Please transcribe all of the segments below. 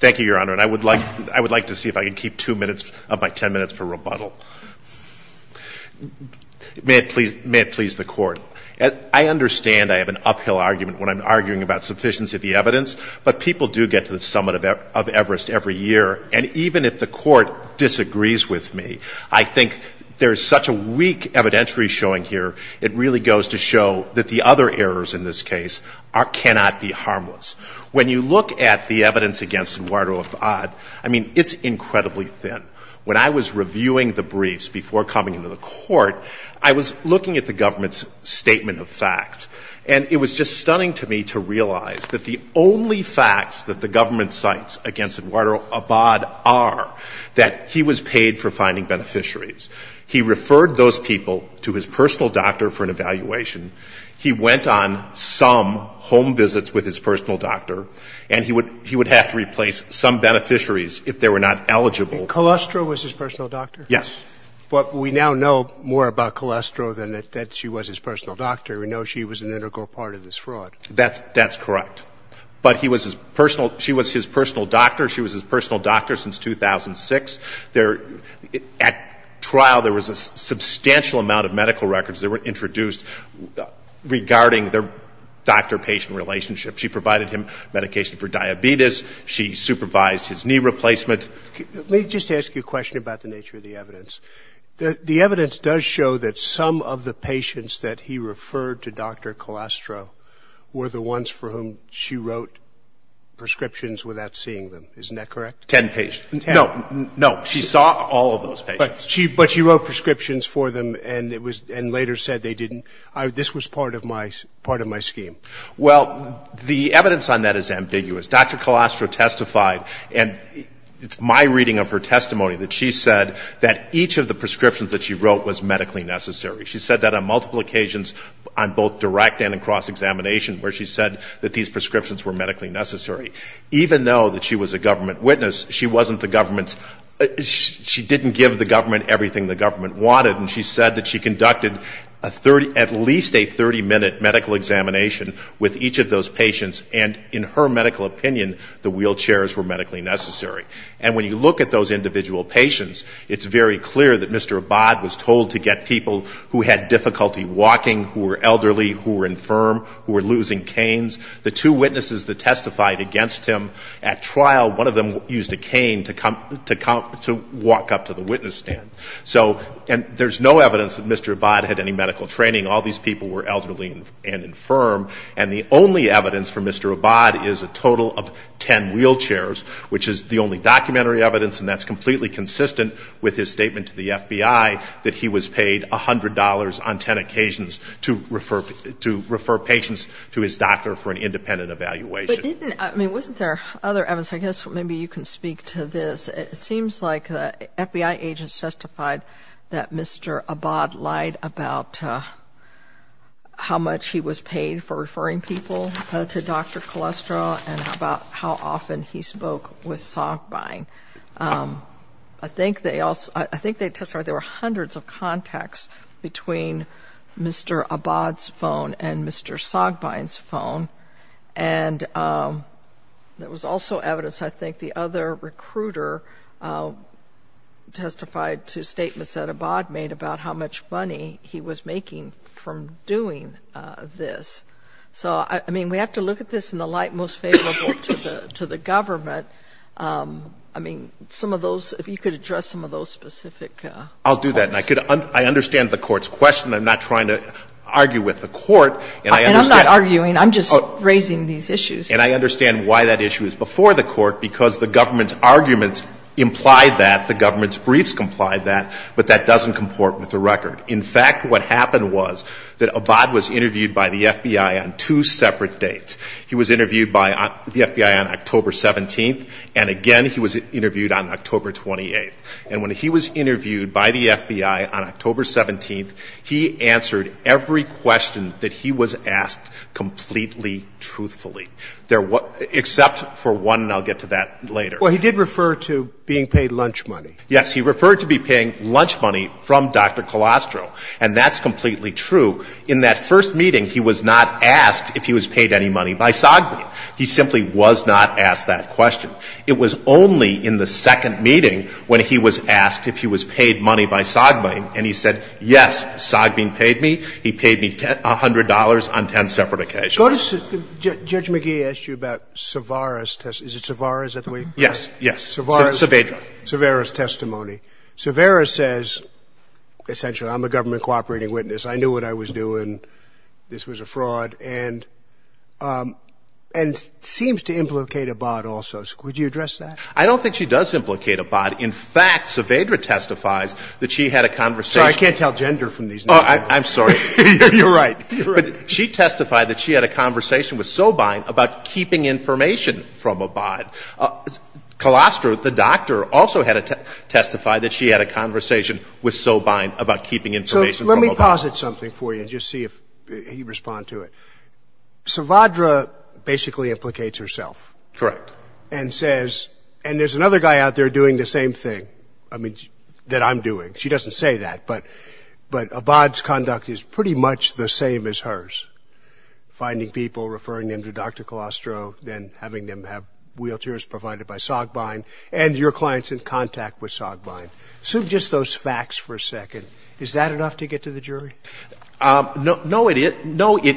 Thank you, Your Honor, and I would like to see if I can keep two minutes up by ten minutes for rebuttal. May it please the Court, I understand I have an uphill argument when I'm arguing about sufficiency of the evidence, but people do get to the summit of Everest every year, and even if the Court disagrees with me, I think there's such a weak evidentiary showing here, it really goes to show that the other errors in this case cannot be harmless. When you look at the evidence against Eduardo Abad, I mean, it's incredibly thin. When I was reviewing the briefs before coming to the Court, I was looking at the government's statement of facts, and it was just stunning to me to realize that the only facts that the government cites against Eduardo Abad are that he was paid for finding beneficiaries, he referred those people to his personal doctor for an evaluation, he went on some home visits with his personal doctor, and he would have to replace some beneficiaries if they were not eligible. And Colostro was his personal doctor? Yes. But we now know more about Colostro than that she was his personal doctor. We know she was an integral part of this fraud. That's correct. But she was his personal doctor. She was his personal doctor since 2006. At trial, there was a substantial amount of medical records that were introduced regarding their doctor-patient relationship. She provided him medication for diabetes. She supervised his knee replacement. Let me just ask you a question about the nature of the evidence. The evidence does show that some of the patients that he referred to Dr. Colostro were the ones for whom she wrote prescriptions without seeing them. Isn't that correct? Ten patients. No, no. She saw all of those patients. But she wrote prescriptions for them and later said they didn't. This was part of my scheme. Well, the evidence on that is ambiguous. Dr. Colostro testified, and it's my reading of her testimony, that she said that each of the prescriptions that she wrote was medically necessary. She said that on multiple occasions on both direct and in cross-examination where she said that these prescriptions were medically necessary. Even though that she was a government witness, she didn't give the government everything the government wanted. She said that she conducted at least a 30-minute medical examination with each of those patients and, in her medical opinion, the wheelchairs were medically necessary. And when you look at those individual patients, it's very clear that Mr. Abad was told to get people who had difficulty walking, who were elderly, who were infirm, who were losing canes. The two witnesses that testified against him at trial, one of them used a cane to walk up to the witness stand. And there's no evidence that Mr. Abad had any medical training. All these people were elderly and infirm, and the only evidence for Mr. Abad is a total of 10 wheelchairs, which is the only documentary evidence, and that's completely consistent with his statement to the FBI that he was paid $100 on 10 occasions to refer patients to his doctor for an independent evaluation. But wasn't there other evidence? I guess maybe you can speak to this. It seems like FBI agents testified that Mr. Abad lied about how much he was paid for referring people to Dr. Colostro and about how often he spoke with Sogbine. I think they testified there were hundreds of contacts between Mr. Abad's phone and Mr. Sogbine's phone. And there was also evidence, I think, the other recruiter testified to statements that Abad made about how much money he was making from doing this. So, I mean, we have to look at this in the light most favorable to the government. I mean, some of those, if you could address some of those specific... I'll do that, and I understand the court's question. I'm not trying to argue with the court, and I understand... And I'm not arguing. I'm just raising these issues. And I understand why that issue is before the court, because the government's arguments imply that, the government's briefs comply that, but that doesn't comport with the record. In fact, what happened was that Abad was interviewed by the FBI on two separate dates. He was interviewed by the FBI on October 17th, and again he was interviewed on October 28th. And when he was interviewed by the FBI on October 17th, he answered every question that he was asked completely truthfully, except for one, and I'll get to that later. Well, he did refer to being paid lunch money. Yes, he referred to being paid lunch money from Dr. Colostro, and that's completely true. In that first meeting, he was not asked if he was paid any money by Sogbine. He simply was not asked that question. It was only in the second meeting when he was asked if he was paid money by Sogbine, and he said, yes, Sogbine paid me. He paid me $100 on 10 separate occasions. Judge McGee asked you about Savera's testimony. Savera says, essentially, I'm a government cooperating witness. This was a fraud. And seems to implicate Abad also. Would you address that? I don't think she does implicate Abad. In fact, Savera testifies that she had a conversation. Sorry, I can't tell gender from these numbers. I'm sorry. You're right. She testified that she had a conversation with Sogbine about keeping information from Abad. Colostro, the doctor, also testified that she had a conversation with Sogbine about keeping information from Abad. Let me posit something for you and just see if you respond to it. Savera basically implicates herself. Correct. And says, and there's another guy out there doing the same thing that I'm doing. She doesn't say that, but Abad's conduct is pretty much the same as hers, finding people, referring them to Dr. Colostro, then having them have wheelchairs provided by Sogbine, and your client's in contact with Sogbine. So just those facts for a second. Is that enough to get to the jury? No, it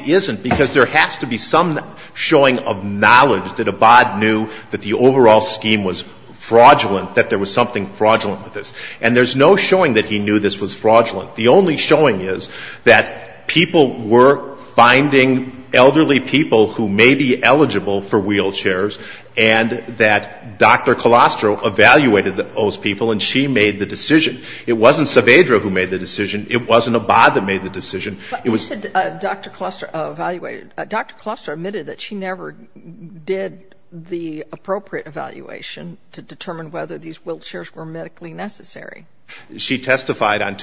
isn't, because there has to be some showing of knowledge that Abad knew that the overall scheme was fraudulent, that there was something fraudulent with this. And there's no showing that he knew this was fraudulent. The only showing is that people were finding elderly people who may be eligible for wheelchairs and that Dr. Colostro evaluated those people and she made the decision. It wasn't Savera who made the decision. It wasn't Abad that made the decision. Dr. Colostro admitted that she never did the appropriate evaluation to determine whether these wheelchairs were medically necessary. She testified on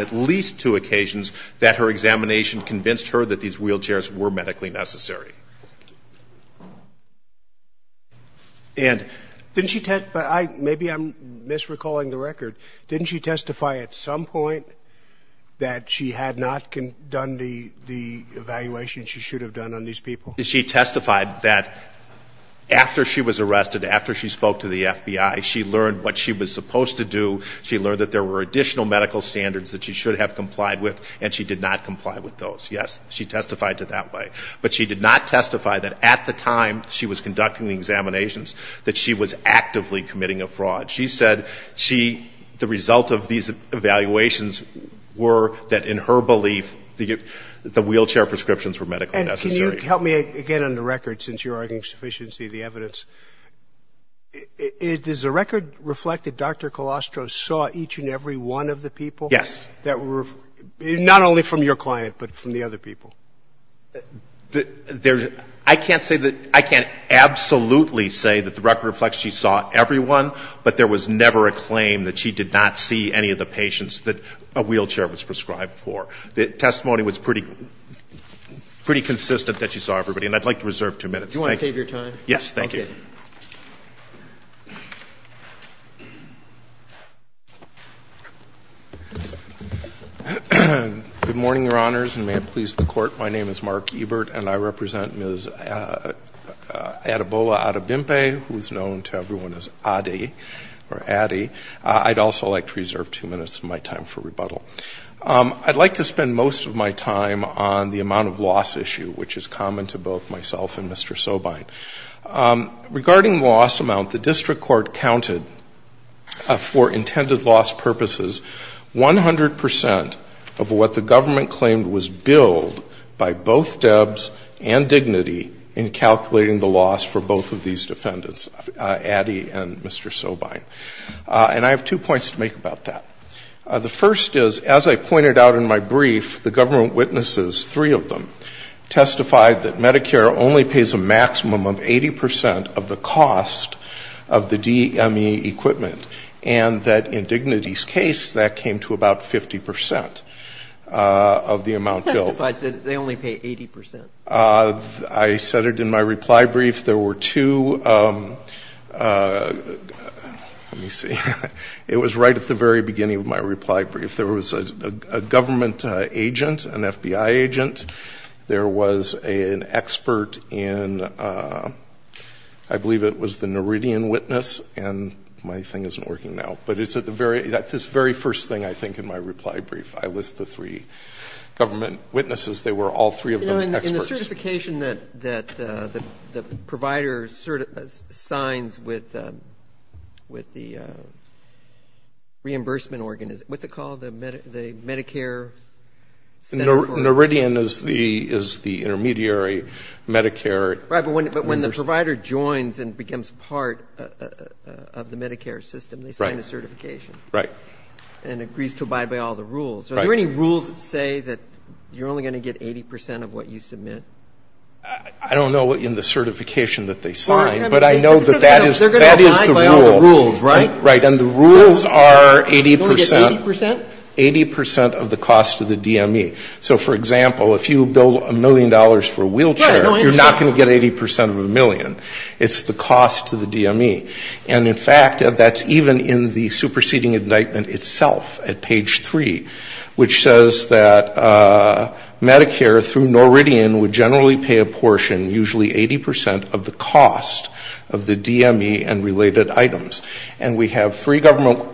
at least two occasions that her examination convinced her that these wheelchairs were medically necessary. Maybe I'm misrecalling the record. Didn't she testify at some point that she had not done the evaluation she should have done on these people? She testified that after she was arrested, after she spoke to the FBI, she learned what she was supposed to do. She learned that there were additional medical standards that she should have complied with, and she did not comply with those. Yes, she testified to that way. But she did not testify that at the time she was conducting the examinations that she was actively committing a fraud. She said the result of these evaluations were that, in her belief, the wheelchair prescriptions were medically necessary. Help me again on the record, since you're arguing sufficiency of the evidence. Does the record reflect that Dr. Colostro saw each and every one of the people? Yes. Not only from your client, but from the other people? I can't absolutely say that the record reflects she saw everyone, but there was never a claim that she did not see any of the patients that a wheelchair was prescribed for. The testimony was pretty consistent that she saw everybody, and I'd like to reserve two minutes. Do you want to take your time? Yes, thank you. Okay. Good morning, Your Honors, and may it please the Court. My name is Mark Ebert, and I represent Ms. Adebola Adebimpe, who is known to everyone as Addy. I'd like to spend most of my time on the amount of loss issue, which is common to both myself and Mr. Sobine. Regarding loss amount, the district court counted for intended loss purposes 100 percent of what the government claimed was billed by both Debs and Dignity in calculating the loss for both of these defendants, Addy and Mr. Sobine. And I have two points to make about that. The first is, as I pointed out in my brief, the government witnesses, three of them, testified that Medicare only pays a maximum of 80 percent of the cost of the DME equipment, and that in Dignity's case, that came to about 50 percent of the amount billed. But they only pay 80 percent. I said it in my reply brief. There were two – let me see. It was right at the very beginning of my reply brief. There was a government agent, an FBI agent. There was an expert in – I believe it was the Neridian witness, and my thing isn't working now. But it's at the very – that's this very first thing, I think, in my reply brief. I list the three government witnesses. They were all three of them experts. You know, in the certification that the provider signs with the reimbursement – what's it called, the Medicare? Neridian is the intermediary Medicare. Right, but when the provider joins and becomes part of the Medicare system, they sign a certification. Right. And agrees to abide by all the rules. Right. Are there any rules that say that you're only going to get 80 percent of what you submit? I don't know in the certification that they sign, but I know that that is the rule. They're going to abide by all the rules, right? Right, and the rules are 80 percent. They only get 80 percent? Eighty percent of the cost of the DME. So, for example, if you bill a million dollars for a wheelchair, you're not going to get 80 percent of a million. It's the cost to the DME. And, in fact, that's even in the superseding indictment itself at page three, which says that Medicare through Neridian would generally pay a portion, usually 80 percent, of the cost of the DME and related items. And we have three government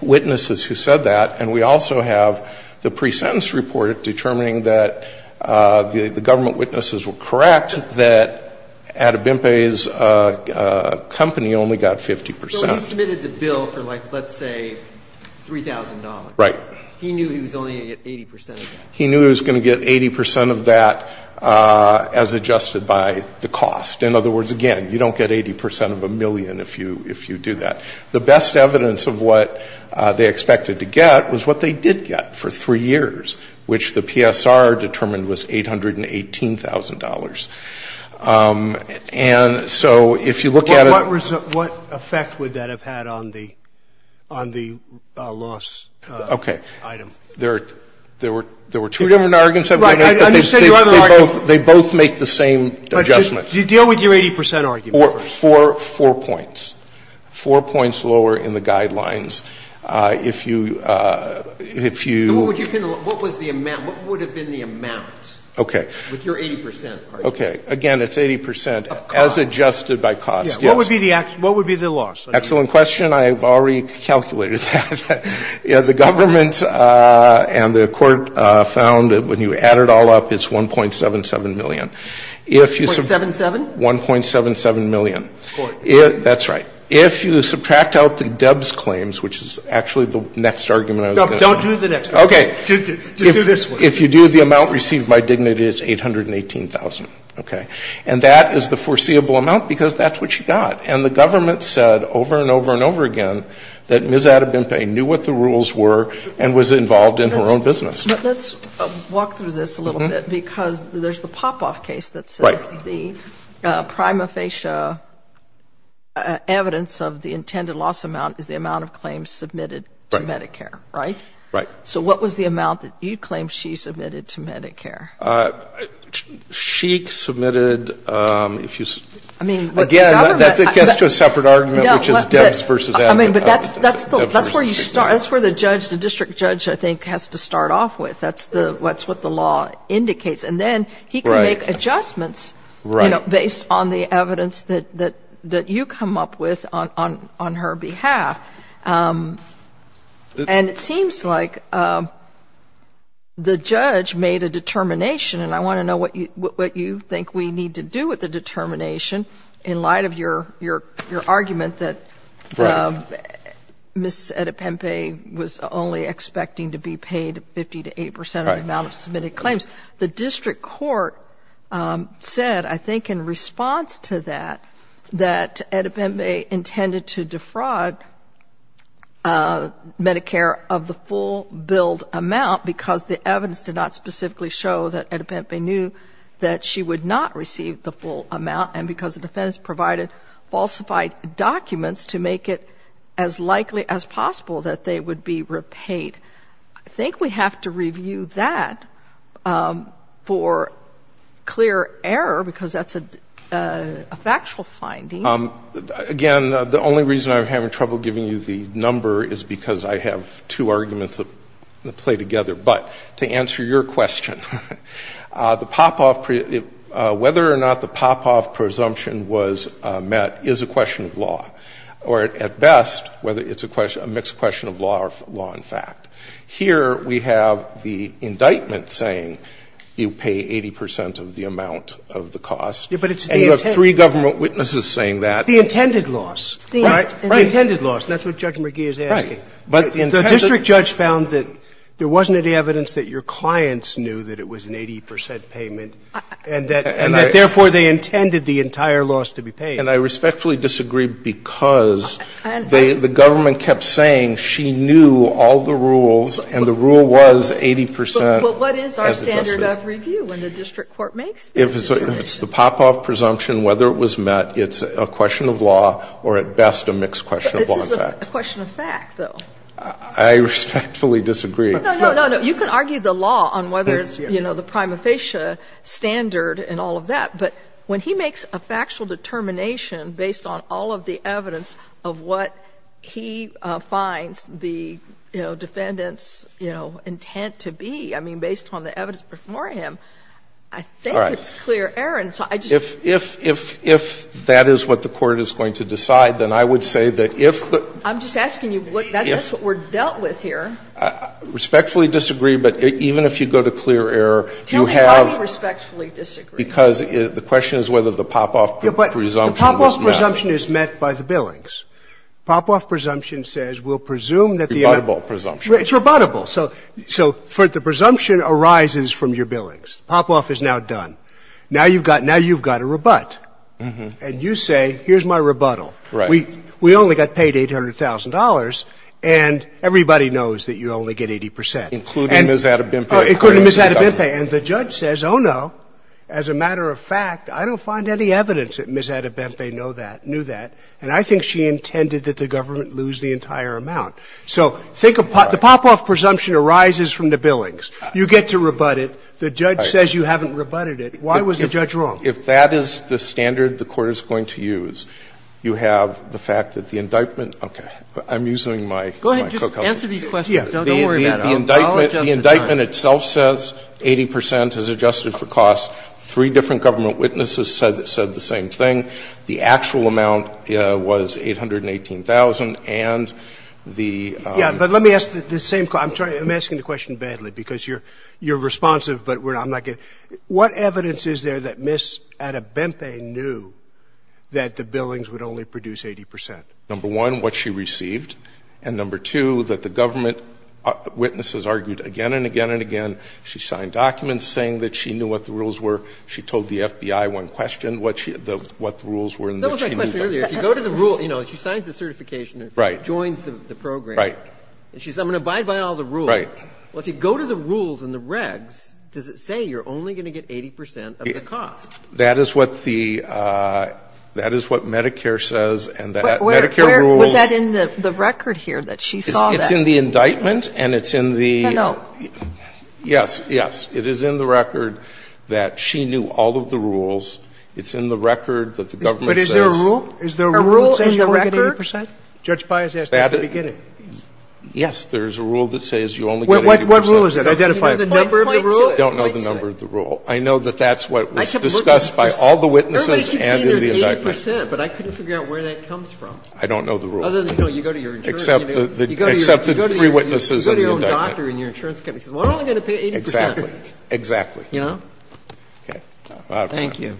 witnesses who said that, and we also have the pre-sentence report determining that the government witnesses were correct, that Adibimpe's company only got 50 percent. So he submitted the bill for, like, let's say $3,000. Right. He knew he was only going to get 80 percent of that. He knew he was going to get 80 percent of that as adjusted by the cost. In other words, again, you don't get 80 percent of a million if you do that. The best evidence of what they expected to get was what they did get for three years, which the PSR determined was $818,000. And so if you look at it... What effect would that have had on the loss item? Okay. There were two different arguments. Right. They both make the same adjustment. Do you deal with your 80 percent argument? Four points. Four points lower in the guidelines. If you... What would have been the amount? Okay. With your 80 percent argument. Okay. Again, it's 80 percent as adjusted by cost. What would be the loss? Excellent question. I've already calculated that. The government and the court found that when you add it all up, it's $1.77 million. $1.77? $1.77 million. That's right. If you subtract out the DEBS claims, which is actually the next argument... No, don't do the next one. Okay. Do this one. If you do the amount received by Dignity, it's $818,000. Okay. And that is the foreseeable amount because that's what you got. And the government said over and over and over again that Ms. Adebempe knew what the rules were and was involved in her own business. Let's walk through this a little bit because there's a pop-off case that says the prima facie evidence of the intended loss amount is the amount of claims submitted to Medicare, right? Right. So what was the amount that you claimed she submitted to Medicare? She submitted... Again, that gets to a separate argument, which is DEBS versus Adebempe. That's where the district judge, I think, has to start off with. That's what the law indicates. And then he can make adjustments based on the evidence that you come up with on her behalf. And it seems like the judge made a determination, and I want to know what you think we need to do with the determination in light of your argument that Ms. Adebempe was only expecting to be paid 50% to 8% of the amount of submitted claims. The district court said, I think, in response to that, that Adebempe intended to defraud Medicare of the full billed amount because the evidence did not specifically show that Adebempe knew that she would not receive the full amount and because the defense provided falsified documents to make it as likely as possible that they would be repaid. I think we have to review that for clear error because that's a factual finding. Again, the only reason I'm having trouble giving you the number is because I have two arguments that play together. But to answer your question, whether or not the pop-off presumption was met is a question of law, or at best, whether it's a mixed question of law or law and fact. Here we have the indictment saying you pay 80% of the amount of the cost. And you have three government witnesses saying that. The intended loss. The intended loss. That's what Judge McGee is asking. The district judge found that there wasn't any evidence that your clients knew that it was an 80% payment and that, therefore, they intended the entire loss to be paid. And I respectfully disagree because the government kept saying she knew all the rules and the rule was 80%. But what is our standard of review when the district court makes that determination? If it's the pop-off presumption, whether it was met, it's a question of law, or at best, a mixed question of law and fact. This is a question of fact, though. I respectfully disagree. No, no, no. You can argue the law on whether it's the prima facie standard and all of that. But when he makes a factual determination based on all of the evidence of what he finds the defendant's intent to be, I mean, based on the evidence before him, I think it's clear error. If that is what the court is going to decide, then I would say that if the ‑‑ I'm just asking you, that's what we're dealt with here. I respectfully disagree, but even if you go to clear error, you have ‑‑ Tell me how you respectfully disagree. Because the question is whether the pop-off presumption is met. The pop-off presumption is met by the billings. Pop-off presumption says we'll presume that the ‑‑ It's rebuttable presumption. It's rebuttable. So the presumption arises from your billings. Pop-off is now done. Now you've got a rebut. And you say, here's my rebuttal. We only got paid $800,000, and everybody knows that you only get 80%. Including Ms. Adebempe. Including Ms. Adebempe. And the judge says, oh, no, as a matter of fact, I don't find any evidence that Ms. Adebempe knew that. And I think she intended that the government lose the entire amount. So the pop-off presumption arises from the billings. You get to rebut it. The judge says you haven't rebutted it. Why was the judge wrong? If that is the standard the court is going to use, you have the fact that the indictment ‑‑ Okay. I'm using my cookout. Go ahead. Just answer these questions. Don't worry about it. The indictment itself says 80% is adjusted for cost. Three different government witnesses said the same thing. The actual amount was $818,000. Let me ask the same question. I'm asking the question badly because you're responsive. What evidence is there that Ms. Adebempe knew that the billings would only produce 80%? Number one, what she received. And number two, that the government witnesses argued again and again and again. She signed documents saying that she knew what the rules were. She told the FBI one question what the rules were. She signed the certification and joined the program. She said I'm going to abide by all the rules. If you go to the rules in the regs, does it say you're only going to get 80% of the cost? That is what Medicare says. Was that in the record here that she saw that? It's in the indictment. Yes, yes. It is in the record that she knew all of the rules. It's in the record that the government says. But is there a rule? Is there a rule saying you're only going to get 80%? Judge Pius asked that at the beginning. Yes, there is a rule that says you're only going to get 80%. What rule is that? Identify the number of the rule? I don't know the number of the rule. I know that that's what was discussed by all the witnesses and in the indictment. But I couldn't figure out where that comes from. I don't know the rule. You go to your insurance company. Except the three witnesses in the indictment. You go to your own doctor and your insurance company says we're only going to pay 80%. Exactly. Yeah? Okay. Thank you.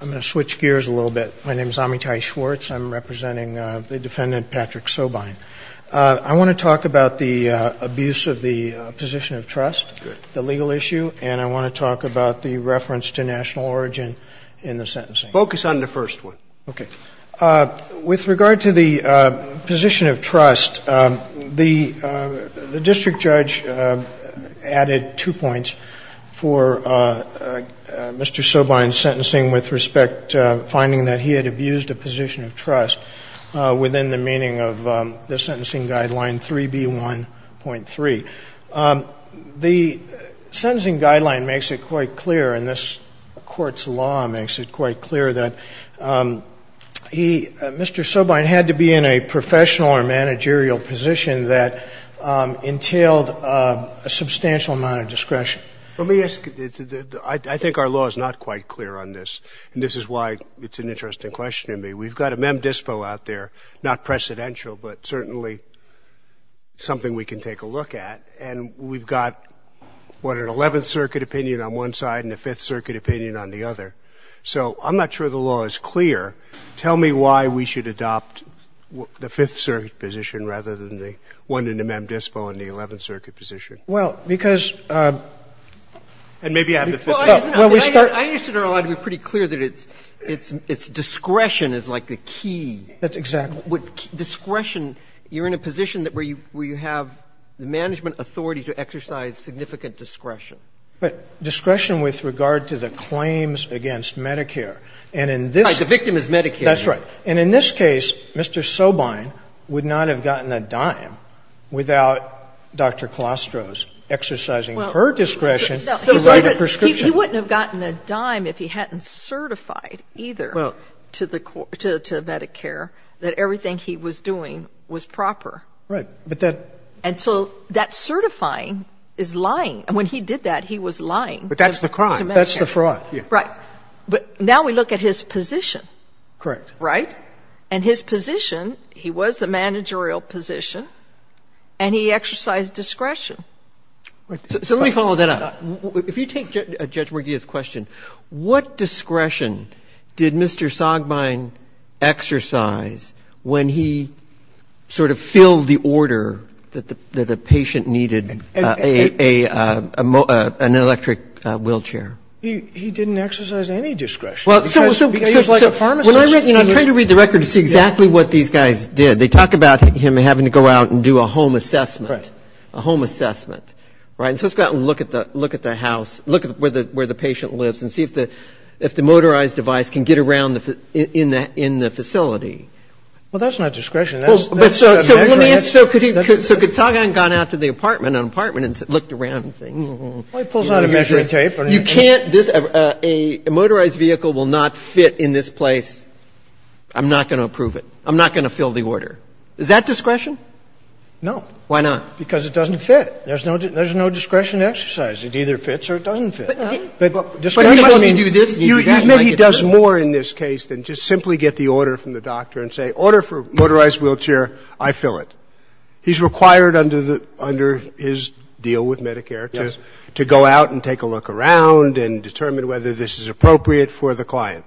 I'm going to switch gears a little bit. My name is Amitai Schwartz. I'm representing the defendant, Patrick Sobine. I want to talk about the abuse of the position of trust, the legal issue, and I want to talk about the reference to national origin in the sentencing. Focus on the first one. Okay. With regard to the position of trust, the district judge added two points for Mr. Sobine's sentencing with respect to finding that he had abused a position of trust within the meaning of the sentencing guideline 3B1.3. The sentencing guideline makes it quite clear, and this court's law makes it quite clear that Mr. Sobine had to be in a professional or managerial position that entailed a substantial amount of discretion. Let me ask you. I think our law is not quite clear on this, and this is why it's an interesting question to me. We've got a mem dispo out there, not precedential, but certainly something we can take a look at, and we've got, what, an 11th Circuit opinion on one side and a 5th Circuit opinion on the other. So I'm not sure the law is clear. Tell me why we should adopt the 5th Circuit position rather than the one in the mem dispo and the 11th Circuit position. Well, because... I understand our law to be pretty clear that it's discretion is like the key. That's exactly right. With discretion, you're in a position where you have the management authority to exercise significant discretion. But discretion with regard to the claims against Medicare, and in this... The victim is Medicare. That's right. And in this case, Mr. Sobine would not have gotten a dime without Dr. Colostro's exercising her discretion to write a prescription. He wouldn't have gotten a dime if he hadn't certified either to Medicare that everything he was doing was proper. Right. And so that certifying is lying. When he did that, he was lying. But that's the crime. That's the fraud. Right. But now we look at his position. Correct. Right? And his position, he was the managerial position, and he exercised discretion. So let me follow that up. If you take Judge Morgia's question, what discretion did Mr. Sobine exercise when he sort of filled the order that the patient needed an electric wheelchair? He didn't exercise any discretion. Because he was like a pharmacist. I'm trying to read the record to see exactly what these guys did. They talk about him having to go out and do a home assessment. Correct. A home assessment. Right? And so he's got to look at the house, look at where the patient lives, and see if the motorized device can get around in the facility. Well, that's not discretion. So could Sagan have gone out to the apartment and looked around and said, you can't, a motorized vehicle will not fit in this place. I'm not going to approve it. I'm not going to fill the order. Is that discretion? No. Why not? Because it doesn't fit. There's no discretion exercise. It either fits or it doesn't fit. You know he does more in this case than just simply get the order from the doctor and say, order for motorized wheelchair, I fill it. He's required under his deal with Medicare to go out and take a look around and determine whether this is appropriate for the client.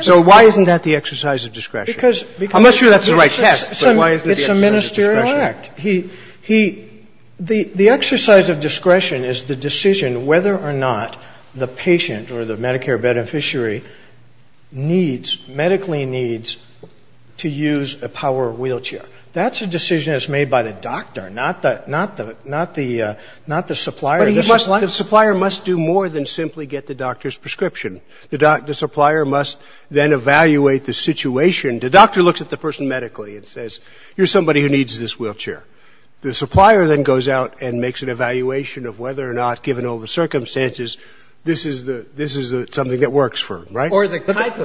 So why isn't that the exercise of discretion? I'm not sure that's the right test. It's a ministerial act. The exercise of discretion is the decision whether or not the patient or the Medicare beneficiary needs, medically needs, to use a power wheelchair. That's a decision that's made by the doctor, not the supplier. The supplier must do more than simply get the doctor's prescription. The supplier must then evaluate the situation. The doctor looks at the person medically and says, here's somebody who needs this wheelchair. The supplier then goes out and makes an evaluation of whether or not, given all the circumstances, this is something that works for them, right? Or the type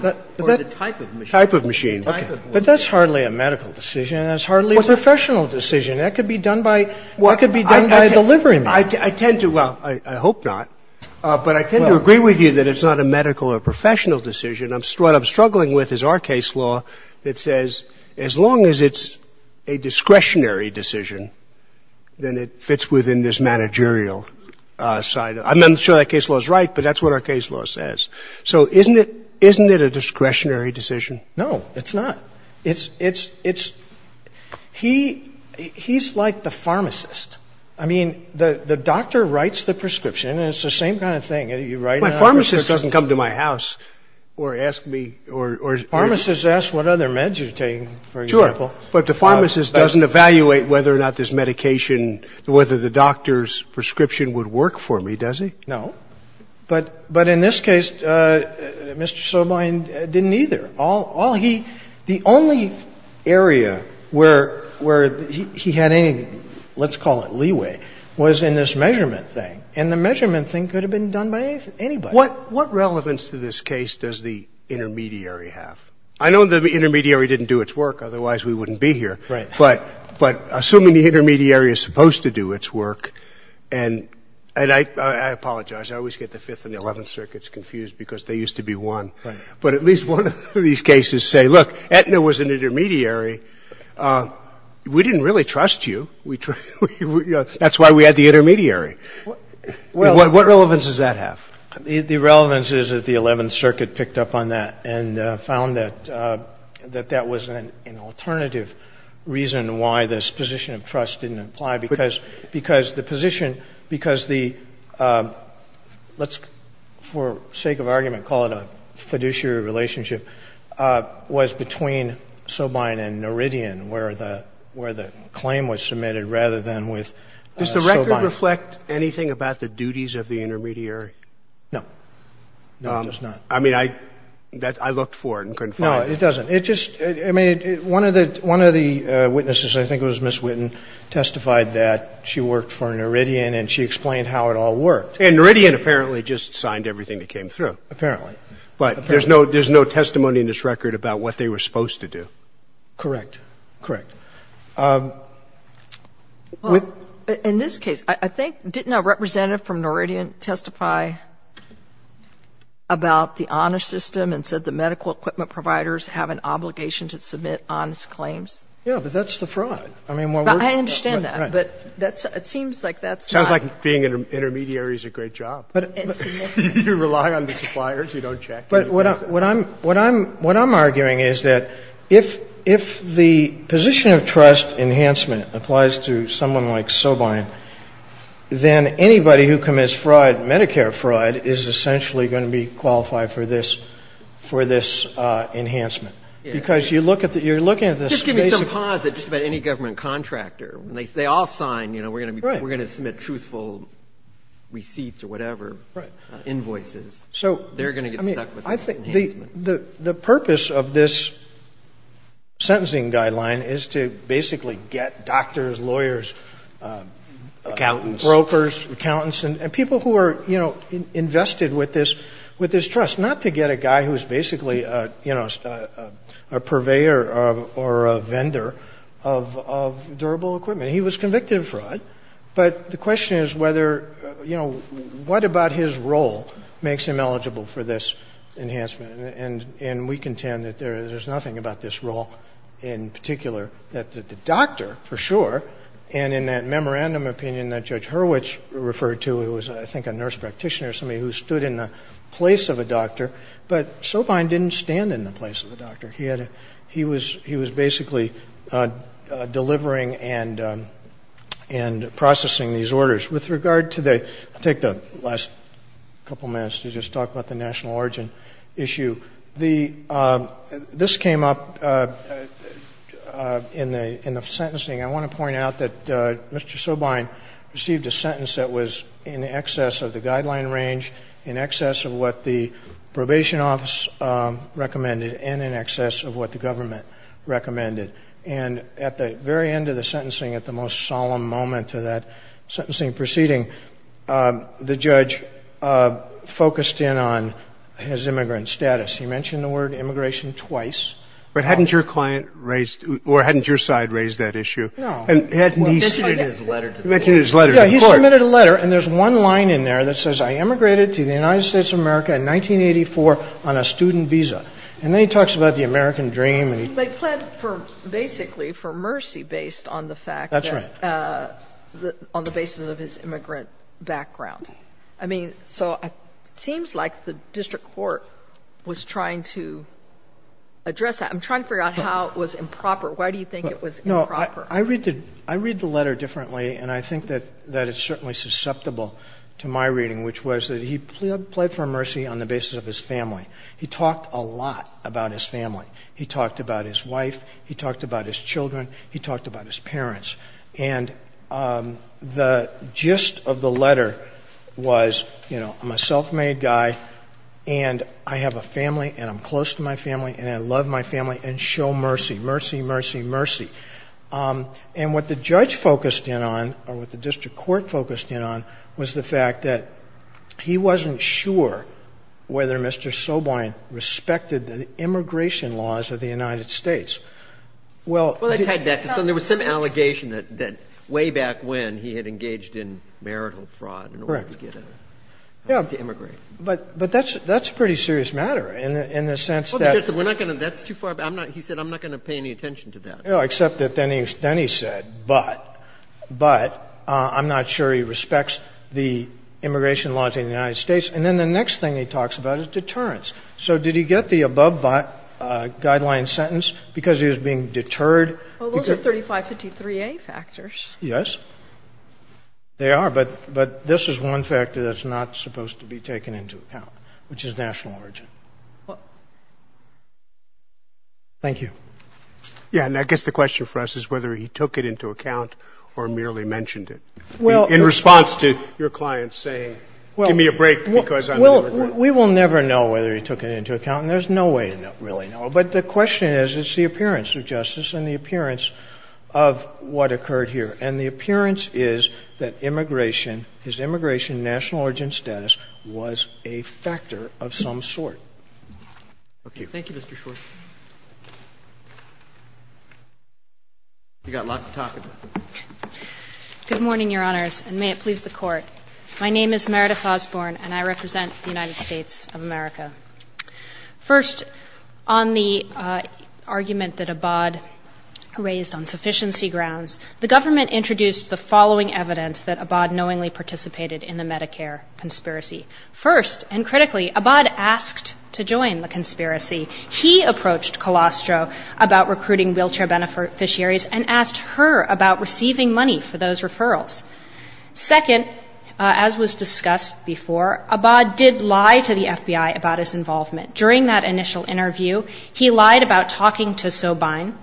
of machine. Type of machine. But that's hardly a medical decision. That's hardly a professional decision. That could be done by delivering. Well, I hope not. But I tend to agree with you that it's not a medical or professional decision. What I'm struggling with is our case law that says as long as it's a discretionary decision, then it fits within this managerial side. I'm not sure that case law is right, but that's what our case law says. So isn't it a discretionary decision? No, it's not. He's like the pharmacist. I mean, the doctor writes the prescription, and it's the same kind of thing. My pharmacist doesn't come to my house or ask me. Pharmacists ask what other meds you're taking, for example. Sure, but the pharmacist doesn't evaluate whether or not this medication, whether the doctor's prescription would work for me, does he? No. But in this case, Mr. Soblein didn't either. The only area where he had any, let's call it leeway, was in this measurement thing, and the measurement thing could have been done by anybody. What relevance to this case does the intermediary have? I know the intermediary didn't do its work, otherwise we wouldn't be here. Right. But assuming the intermediary is supposed to do its work, and I apologize. I always get the Fifth and the Eleventh Circuits confused because they used to be one. Right. But at least one of these cases say, look, Aetna was an intermediary. We didn't really trust you. That's why we had the intermediary. What relevance does that have? The relevance is that the Eleventh Circuit picked up on that and found that that was an alternative reason why this position of trust didn't apply, because the position, because the, let's, for sake of argument, call it a fiduciary relationship, was between Soblein and Noridian, where the claim was submitted, rather than with Soblein. Does the record reflect anything about the duties of the intermediary? No. No, it does not. I mean, I looked for it and couldn't find it. No, it doesn't. It just, I mean, one of the witnesses, I think it was Ms. Witten, testified that she worked for Noridian and she explained how it all worked. And Noridian apparently just signed everything that came through, apparently. But there's no testimony in this record about what they were supposed to do. Correct. Correct. In this case, I think, didn't a representative from Noridian testify about the honest system and said the medical equipment providers have an obligation to submit honest claims? Yeah, but that's the fraud. I understand that, but it seems like that's not. Sounds like being an intermediary is a great job. You rely on the suppliers, you don't check them. But what I'm arguing is that if the position of trust enhancement applies to someone like Soblein, then anybody who commits fraud, Medicare fraud, is essentially going to be qualified for this enhancement. Because you're looking at this. Just give me some pause about any government contractor. They all sign, you know, we're going to submit truthful receipts or whatever, invoices. The purpose of this sentencing guideline is to basically get doctors, lawyers, brokers, accountants, and people who are, you know, invested with this trust, not to get a guy who's basically a purveyor or a vendor of durable equipment. He was convicted of fraud, but the question is whether, you know, what about his role makes him eligible for this enhancement? And we contend that there's nothing about this role in particular. The doctor, for sure, and in that memorandum opinion that Judge Hurwitz referred to, who was I think a nurse practitioner, somebody who stood in the place of a doctor, but Soblein didn't stand in the place of a doctor. He was basically delivering and processing these orders. With regard to the, I'll take the last couple minutes to just talk about the national origin issue. This came up in the sentencing. I want to point out that Mr. Soblein received a sentence that was in excess of the guideline range, in excess of what the probation office recommended, and in excess of what the government recommended. And at the very end of the sentencing, at the most solemn moment of that sentencing proceeding, the judge focused in on his immigrant status. He mentioned the word immigration twice. But hadn't your client raised, or hadn't your side raised that issue? No. He mentioned his letter to the court. Yeah, he submitted a letter, and there's one line in there that says, I immigrated to the United States of America in 1984 on a student visa. And then he talks about the American dream. But he pled basically for mercy based on the fact that, on the basis of his immigrant background. I mean, so it seems like the district court was trying to address that. I'm trying to figure out how it was improper. Why do you think it was improper? I read the letter differently, and I think that it's certainly susceptible to my reading, which was that he pled for mercy on the basis of his family. He talked a lot about his family. He talked about his wife. He talked about his children. He talked about his parents. And the gist of the letter was, you know, I'm a self-made guy, and I have a family, and I'm close to my family, and I love my family, and show mercy. Mercy, mercy, mercy. And what the judge focused in on, or what the district court focused in on, was the fact that he wasn't sure whether Mr. Sobine respected the immigration laws of the United States. Well, there was some allegation that way back when he had engaged in marital fraud in order to immigrate. But that's a pretty serious matter in the sense that he said, I'm not going to pay any attention to that. Except that then he said, but. But I'm not sure he respects the immigration laws of the United States. And then the next thing he talks about is deterrence. So did he get the above guideline sentence because he was being deterred? Well, those are 3553A factors. Yes, they are. But this is one factor that's not supposed to be taken into account, which is national origin. Thank you. Yeah, and I guess the question for us is whether he took it into account or merely mentioned it. In response to your client saying, give me a break, because I know. Well, we will never know whether he took it into account, and there's no way to really know. But the question is, it's the appearance of justice and the appearance of what occurred here. And the appearance is that immigration, his immigration and national origin status was a factor of some sort. Thank you, Mr. Schwartz. You've got lots to talk about. Good morning, Your Honors, and may it please the Court. My name is Meredith Osborne, and I represent the United States of America. First, on the argument that Abad raised on sufficiency grounds, the government introduced the following evidence that Abad knowingly participated in the Medicare conspiracy. First, and critically, Abad asked to join the conspiracy. He approached Colostro about recruiting wheelchair beneficiaries and asked her about receiving money for those referrals. Second, as was discussed before, Abad did lie to the FBI about his involvement. During that initial interview, he lied about talking to Sobhain,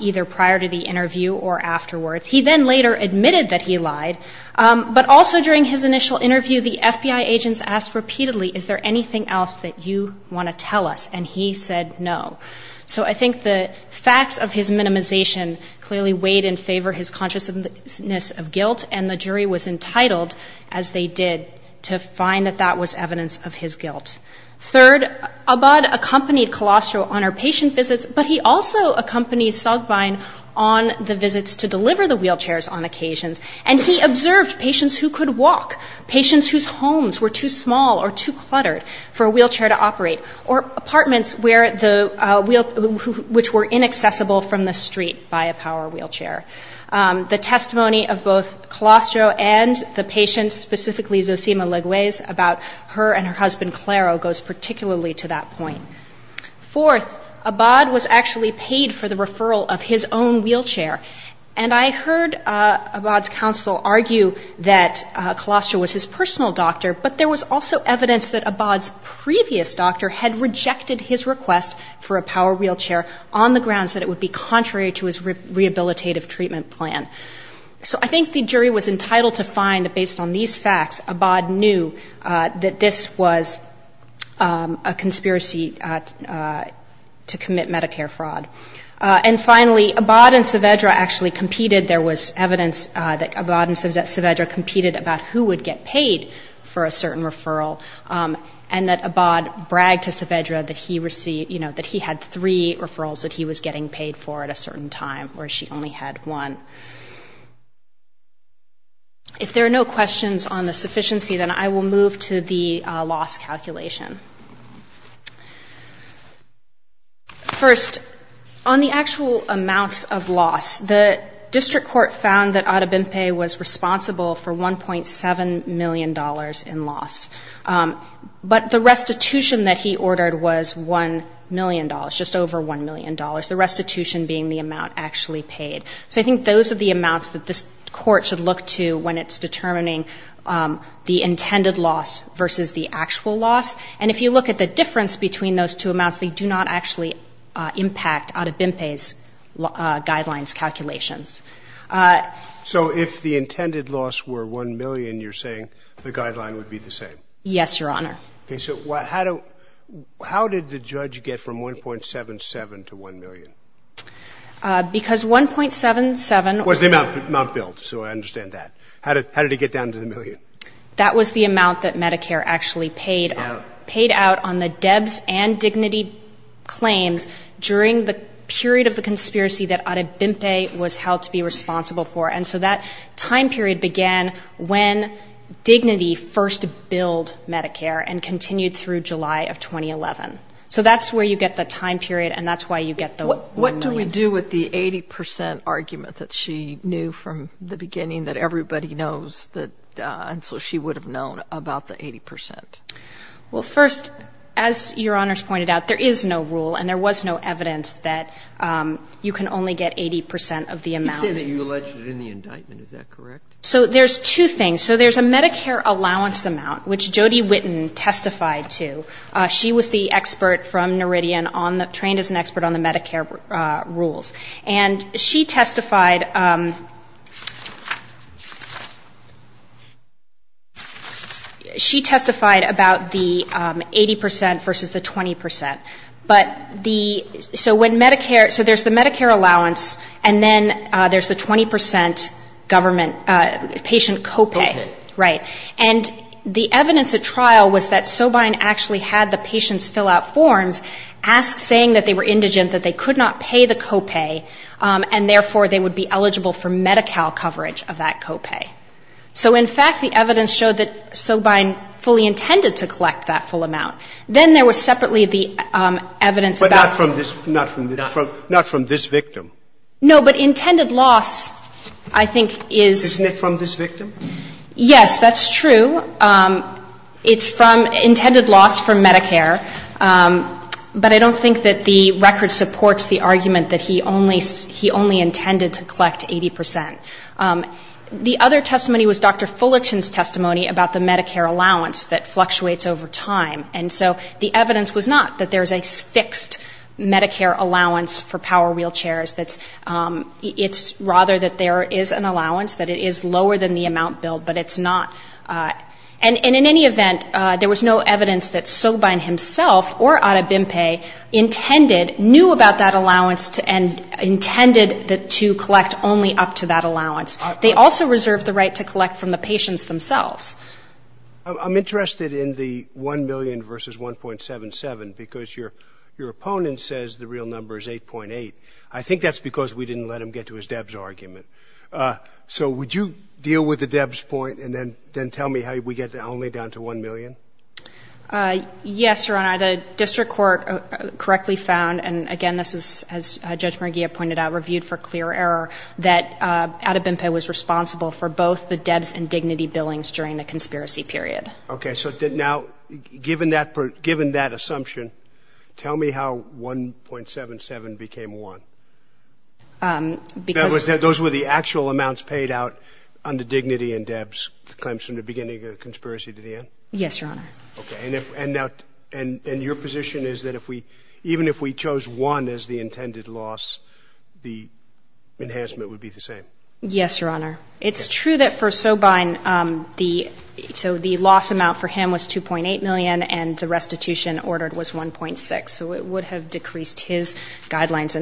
either prior to the interview or afterwards. He then later admitted that he lied, but also during his initial interview, the FBI agents asked repeatedly, is there anything else that you want to tell us? And he said no. So I think the facts of his minimization clearly weighed in favor of his consciousness of guilt, and the jury was entitled, as they did, to find that that was evidence of his guilt. Third, Abad accompanied Colostro on her patient visits, but he also accompanied Sobhain on the visits to deliver the wheelchairs on occasion, and he observed patients who could walk, patients whose homes were too small or too cluttered for a wheelchair to operate, or apartments which were inaccessible from the street by a power wheelchair. The testimony of both Colostro and the patient, specifically Zosima Leguez, about her and her husband, Clairo, goes particularly to that point. Fourth, Abad was actually paid for the referral of his own wheelchair, and I heard Abad's counsel argue that Colostro was his personal doctor, but there was also evidence that Abad's previous doctor had rejected his request for a power wheelchair on the grounds that it would be contrary to his rehabilitative treatment plan. So I think the jury was entitled to find that, based on these facts, Abad knew that this was a conspiracy to commit Medicare fraud. And finally, Abad and Saavedra actually competed. There was evidence that Abad and Saavedra competed about who would get paid for a certain referral, and that Abad bragged to Saavedra that he had three referrals that he was getting paid for at a certain time, where she only had one. If there are no questions on the sufficiency, then I will move to the loss calculation. First, on the actual amounts of loss, the district court found that Adobempe was responsible for $1.7 million in loss, but the restitution that he ordered was $1 million, just over $1 million, the restitution being the amount actually paid. So I think those are the amounts that this court should look to when it's determining the intended loss versus the actual loss, and if you look at the difference between those two amounts, they do not actually impact Adobempe's guidelines calculations. So if the intended loss were $1 million, you're saying the guideline would be the same? Yes, Your Honor. Okay, so how did the judge get from $1.77 to $1 million? Because $1.77 was the amount billed, so I understand that. How did it get down to the million? That was the amount that Medicare actually paid, paid out on the DEBS and Dignity claims during the period of the conspiracy that Adobempe was held to be responsible for, and so that time period began when Dignity first billed Medicare and continued through July of 2011. So that's where you get the time period, and that's why you get the $1 million. What do we do with the 80% argument that she knew from the beginning that everybody knows and so she would have known about the 80%? Well, first, as Your Honor's pointed out, there is no rule and there was no evidence that you can only get 80% of the amount. You said that you alleged it in the indictment. Is that correct? So there's two things. So there's a Medicare allowance amount, which Jody Whitten testified to. She was the expert from Noridian, trained as an expert on the Medicare rules, and she testified about the 80% versus the 20%. So there's the Medicare allowance, and then there's the 20% patient copay. And the evidence at trial was that Sobein actually had the patients fill out forms saying that they were indigent, that they could not pay the copay, and therefore they would be eligible for Medi-Cal coverage of that copay. So in fact, the evidence showed that Sobein fully intended to collect that full amount. Then there was separately the evidence about... But not from this victim. No, but intended loss, I think, is... Isn't it from this victim? Yes, that's true. It's from intended loss for Medicare, but I don't think that the record supports the argument that he only intended to collect 80%. The other testimony was Dr. Fullerton's testimony about the Medicare allowance that fluctuates over time, and so the evidence was not that there's a fixed Medicare allowance for power wheelchairs. It's rather that there is an allowance, that it is lower than the amount billed, but it's not... And in any event, there was no evidence that Sobein himself, or Adebimpe, knew about that allowance and intended to collect only up to that allowance. They also reserved the right to collect from the patients themselves. I'm interested in the 1 million versus 1.77 because your opponent says the real number is 8.8. I think that's because we didn't let him get to his DEBS argument. So would you deal with the DEBS point and then tell me how we get the only down to 1 million? Yes, Your Honor, the district court correctly found, and again, this is, as Judge Merguia pointed out, reviewed for clear error, that Adebimpe was responsible for both the DEBS and Dignity billings during the conspiracy period. Okay, so now, given that assumption, tell me how 1.77 became 1. Those were the actual amounts paid out under Dignity and DEBS, the claims from the beginning of the conspiracy to the end? Yes, Your Honor. Okay, and your position is that even if we chose 1 as the intended loss, the enhancement would be the same? Yes, Your Honor. It's true that for Sobein, so the loss amount for him was 2.8 million, and the restitution ordered was 1.6, so it would have decreased his guidelines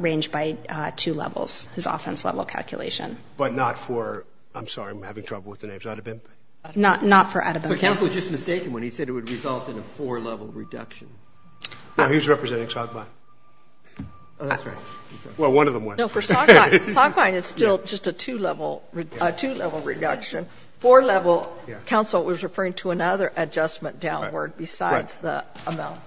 range by two levels, his offense level calculation. But not for, I'm sorry, I'm having trouble with the names, Adebimpe? Not for Adebimpe. Counselor just mistaken when he said it would result in a four-level reduction. Who's representing Sobein? Oh, that's right. Well, one of them was. No, for Sobein, Sobein is still just a two-level reduction. Four-level, counsel was referring to another adjustment downward besides the amount.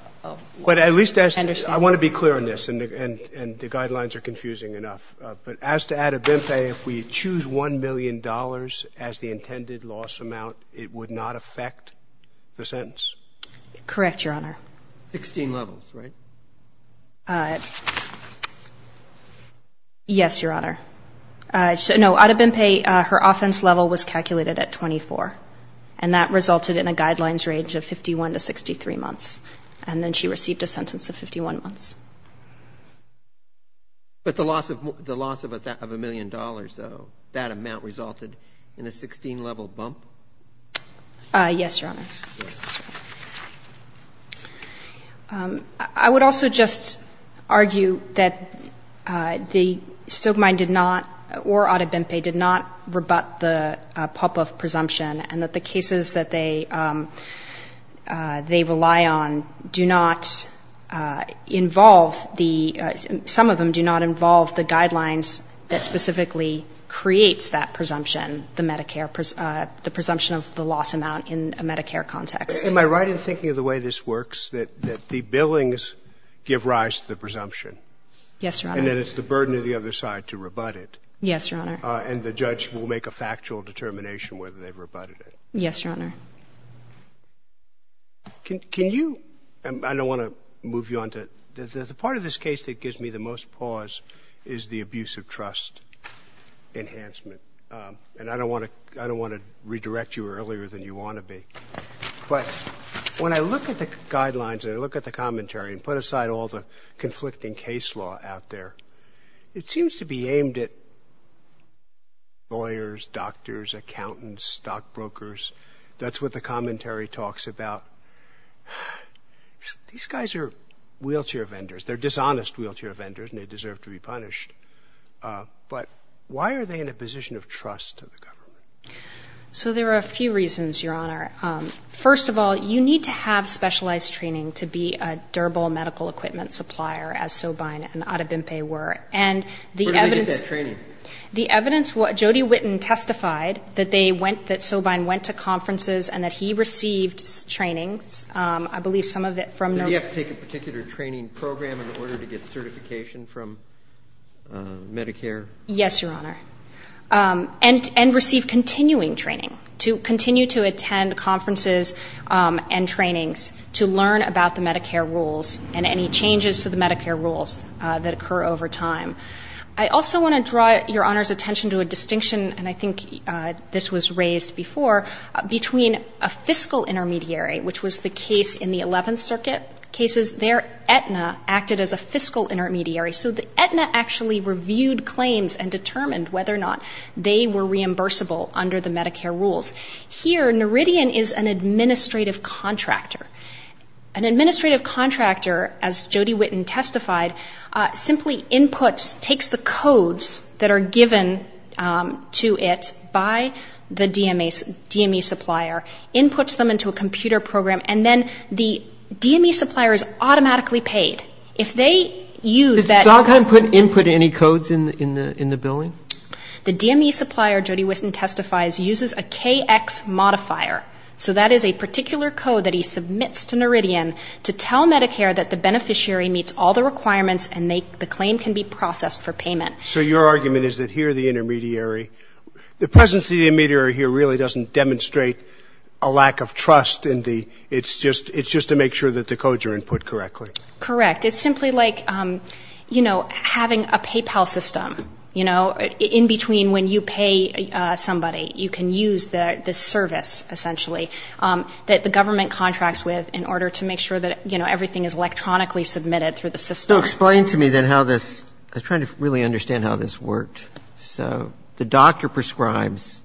But at least I want to be clear on this, and the guidelines are confusing enough. But as to Adebimpe, if we choose $1 million as the intended loss amount, it would not affect the sentence? Correct, Your Honor. 16 levels, right? Yes, Your Honor. No, Adebimpe, her offense level was calculated at 24, and that resulted in a guidelines range of 51 to 63 months. And then she received a sentence of 51 months. But the loss of $1 million, though, that amount resulted in a 16-level bump? Yes, Your Honor. I would also just argue that Sobein did not, or Adebimpe, did not rebut the Popov presumption, and that the cases that they rely on do not involve the ‑‑ some of them do not involve the guidelines that specifically creates that presumption, the presumption of the loss amount in a Medicare context. Am I right in thinking of the way this works, that the billings give rise to the presumption? Yes, Your Honor. And then it's the burden of the other side to rebut it? Yes, Your Honor. And the judge will make a factual determination whether they rebutted it? Yes, Your Honor. Can you ‑‑ I don't want to move you on to ‑‑ The part of this case that gives me the most pause is the abuse of trust enhancement. And I don't want to redirect you earlier than you want to be. But when I look at the guidelines and I look at the commentary and put aside all the conflicting case law out there, it seems to be aimed at lawyers, doctors, accountants, stockbrokers. That's what the commentary talks about. These guys are wheelchair vendors. They're dishonest wheelchair vendors and they deserve to be punished. But why are they in a position of trust to the government? So there are a few reasons, Your Honor. First of all, you need to have specialized training to be a durable medical equipment supplier, as Sobein and Adebimpe were. And the evidence ‑‑ What do you mean by training? The evidence, Jody Whitten testified that Sobein went to conferences and that he received training. I believe some of it from the ‑‑ Did he have to take a particular training program in order to get certification from Medicare? Yes, Your Honor. And received continuing training, to continue to attend conferences and trainings to learn about the Medicare rules and any changes to the Medicare rules that occur over time. I also want to draw Your Honor's attention to a distinction, and I think this was raised before, between a fiscal intermediary, which was the case in the 11th Circuit cases. Their Aetna acted as a fiscal intermediary. So the Aetna actually reviewed claims and determined whether or not they were reimbursable under the Medicare rules. Here, Noridian is an administrative contractor. An administrative contractor, as Jody Whitten testified, simply inputs, takes the codes that are given to it by the DME supplier, inputs them into a computer program, and then the DME supplier is automatically paid. If they use that ‑‑ Does Sobein input any codes in the billing? The DME supplier, Jody Whitten testifies, uses a KX modifier. So that is a particular code that he submits to Noridian to tell Medicare that the beneficiary meets all the requirements and the claim can be processed for payment. So your argument is that here, the intermediary, the presence of the intermediary here really doesn't demonstrate a lack of trust. It's just to make sure that the codes are input correctly. Correct. It's simply like having a PayPal system. In between, when you pay somebody, you can use the service, essentially, that the government contracts with in order to make sure that, you know, everything is electronically submitted through the system. So explain to me then how this ‑‑ I'm trying to really understand how this works. So the doctor prescribes,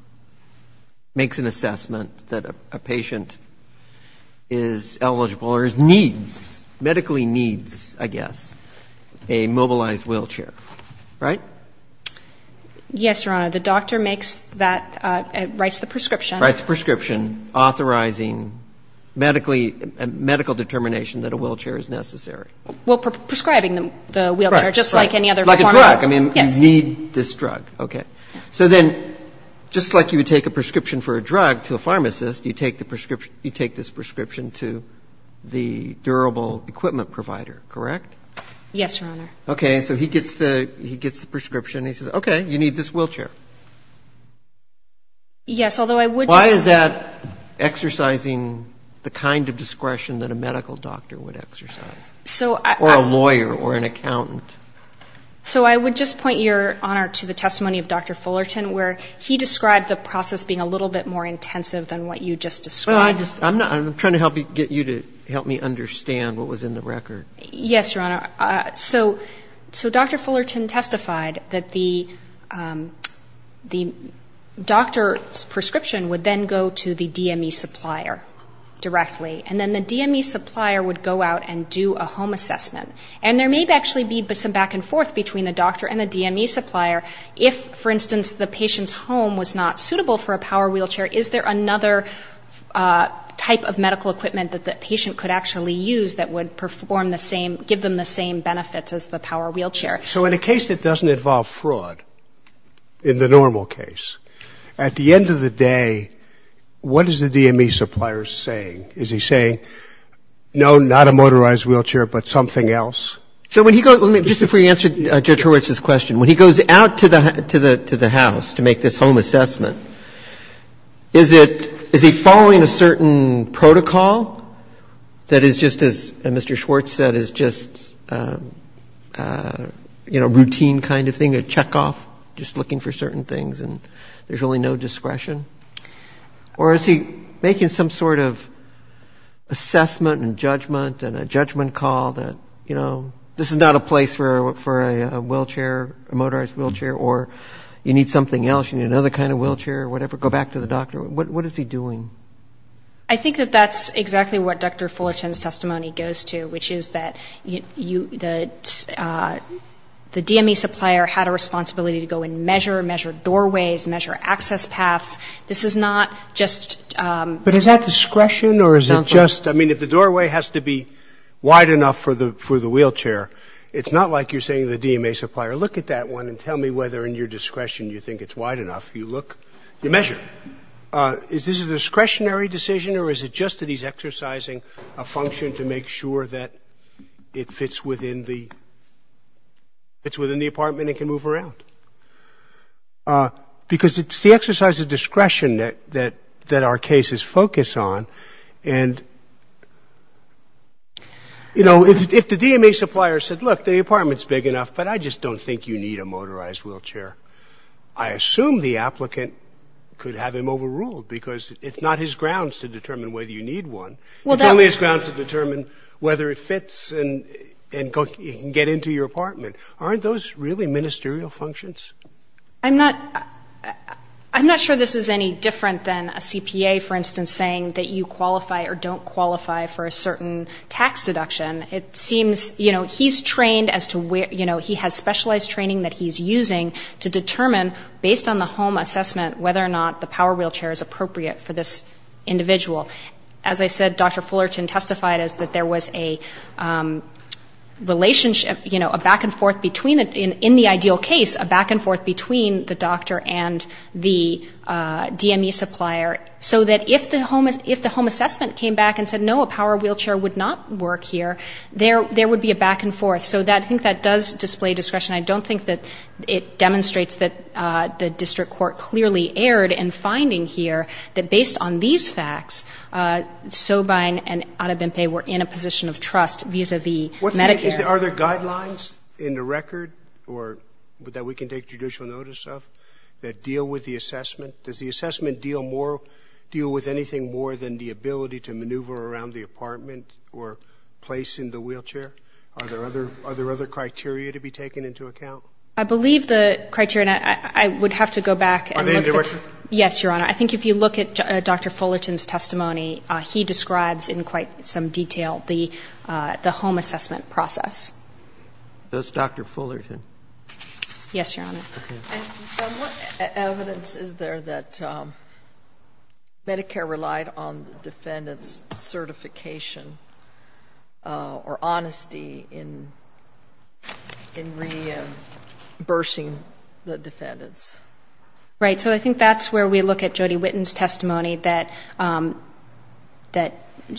makes an assessment that a patient is eligible or needs, medically needs, I guess, a mobilized wheelchair, right? Yes, Your Honor. The doctor makes that, writes the prescription. Writes the prescription authorizing medical determination that a wheelchair is necessary. Well, prescribing the wheelchair, just like any other form of ‑‑ Like a drug. I mean, you need this drug. Okay. So then, just like you would take a prescription for a drug to a pharmacist, you take this prescription to the durable equipment provider, correct? Yes, Your Honor. Okay, so he gets the prescription and he says, okay, you need this wheelchair. Yes, although I would ‑‑ Why is that exercising the kind of discretion that a medical doctor would exercise, or a lawyer, or an accountant? So I would just point, Your Honor, to the testimony of Dr. Fullerton, where he described the process being a little bit more intensive than what you just described. I'm trying to get you to help me understand what was in the record. Yes, Your Honor. So Dr. Fullerton testified that the doctor's prescription would then go to the DME supplier directly, and then the DME supplier would go out and do a home assessment. And there may actually be some back and forth between the doctor and the DME supplier if, for instance, the patient's home was not suitable for a power wheelchair. Is there another type of medical equipment that the patient could actually use that would give them the same benefits as the power wheelchair? So in a case that doesn't involve fraud, in the normal case, at the end of the day, what is the DME supplier saying? Is he saying, no, not a motorized wheelchair, but something else? Just before you answer Judge Horowitz's question, when he goes out to the house to make this home assessment, is he following a certain protocol that is just, as Mr. Schwartz said, is just a routine kind of thing, a checkoff, just looking for certain things, and there's really no discretion? Or is he making some sort of assessment and judgment and a judgment call that, you know, this is not a place for a wheelchair, a motorized wheelchair, or you need something else, you need another kind of wheelchair, or whatever, go back to the doctor? What is he doing? I think that that's exactly what Dr. Fullerton's testimony goes to, which is that the DME supplier had a responsibility to go and measure, measure doorways, measure access paths. This is not just... But is that discretion, or is it just... I mean, if the doorway has to be wide enough for the wheelchair, it's not like you're saying to the DME supplier, look at that one and tell me whether in your discretion you think it's wide enough. You look, you measure. Is this a discretionary decision, or is it just that he's exercising a function to make sure that it fits within the apartment and can move around? Because it's the exercise of discretion that our cases focus on, and, you know, if the DME supplier said, look, the apartment's big enough, but I just don't think you need a motorized wheelchair, I assume the applicant could have him overruled, because it's not his grounds to determine whether you need one. It's only his grounds to determine whether it fits and can get into your apartment. Aren't those really ministerial functions? I'm not sure this is any different than a CPA, for instance, saying that you qualify or don't qualify for a certain tax deduction. It seems, you know, he's trained as to where, you know, he has specialized training that he's using to determine, based on the home assessment, whether or not the power wheelchair is appropriate for this individual. As I said, Dr. Fullerton testified that there was a relationship, you know, a back and forth between, in the ideal case, a back and forth between the doctor and the DME supplier, so that if the home assessment came back and said, no, a power wheelchair would not work here, there would be a back and forth. So I think that does display discretion. I don't think that it demonstrates that the district court clearly erred in finding here that based on these facts, Sobein and Arrebente were in a position of trust vis-à-vis Medicare. Are there guidelines in the record that we can take judicial notice of that deal with the assessment? Does the assessment deal with anything more than the ability to maneuver around the apartment or place in the wheelchair? Are there other criteria to be taken into account? I believe the criteria, and I would have to go back. Yes, Your Honor. I think if you look at Dr. Fullerton's testimony, he describes in quite some detail the home assessment process. Does Dr. Fullerton? Yes, Your Honor. What evidence is there that Medicare relied on the defendant's certification or honesty in reimbursing the defendants? Right, so I think that's where we look at Jody Whitten's testimony,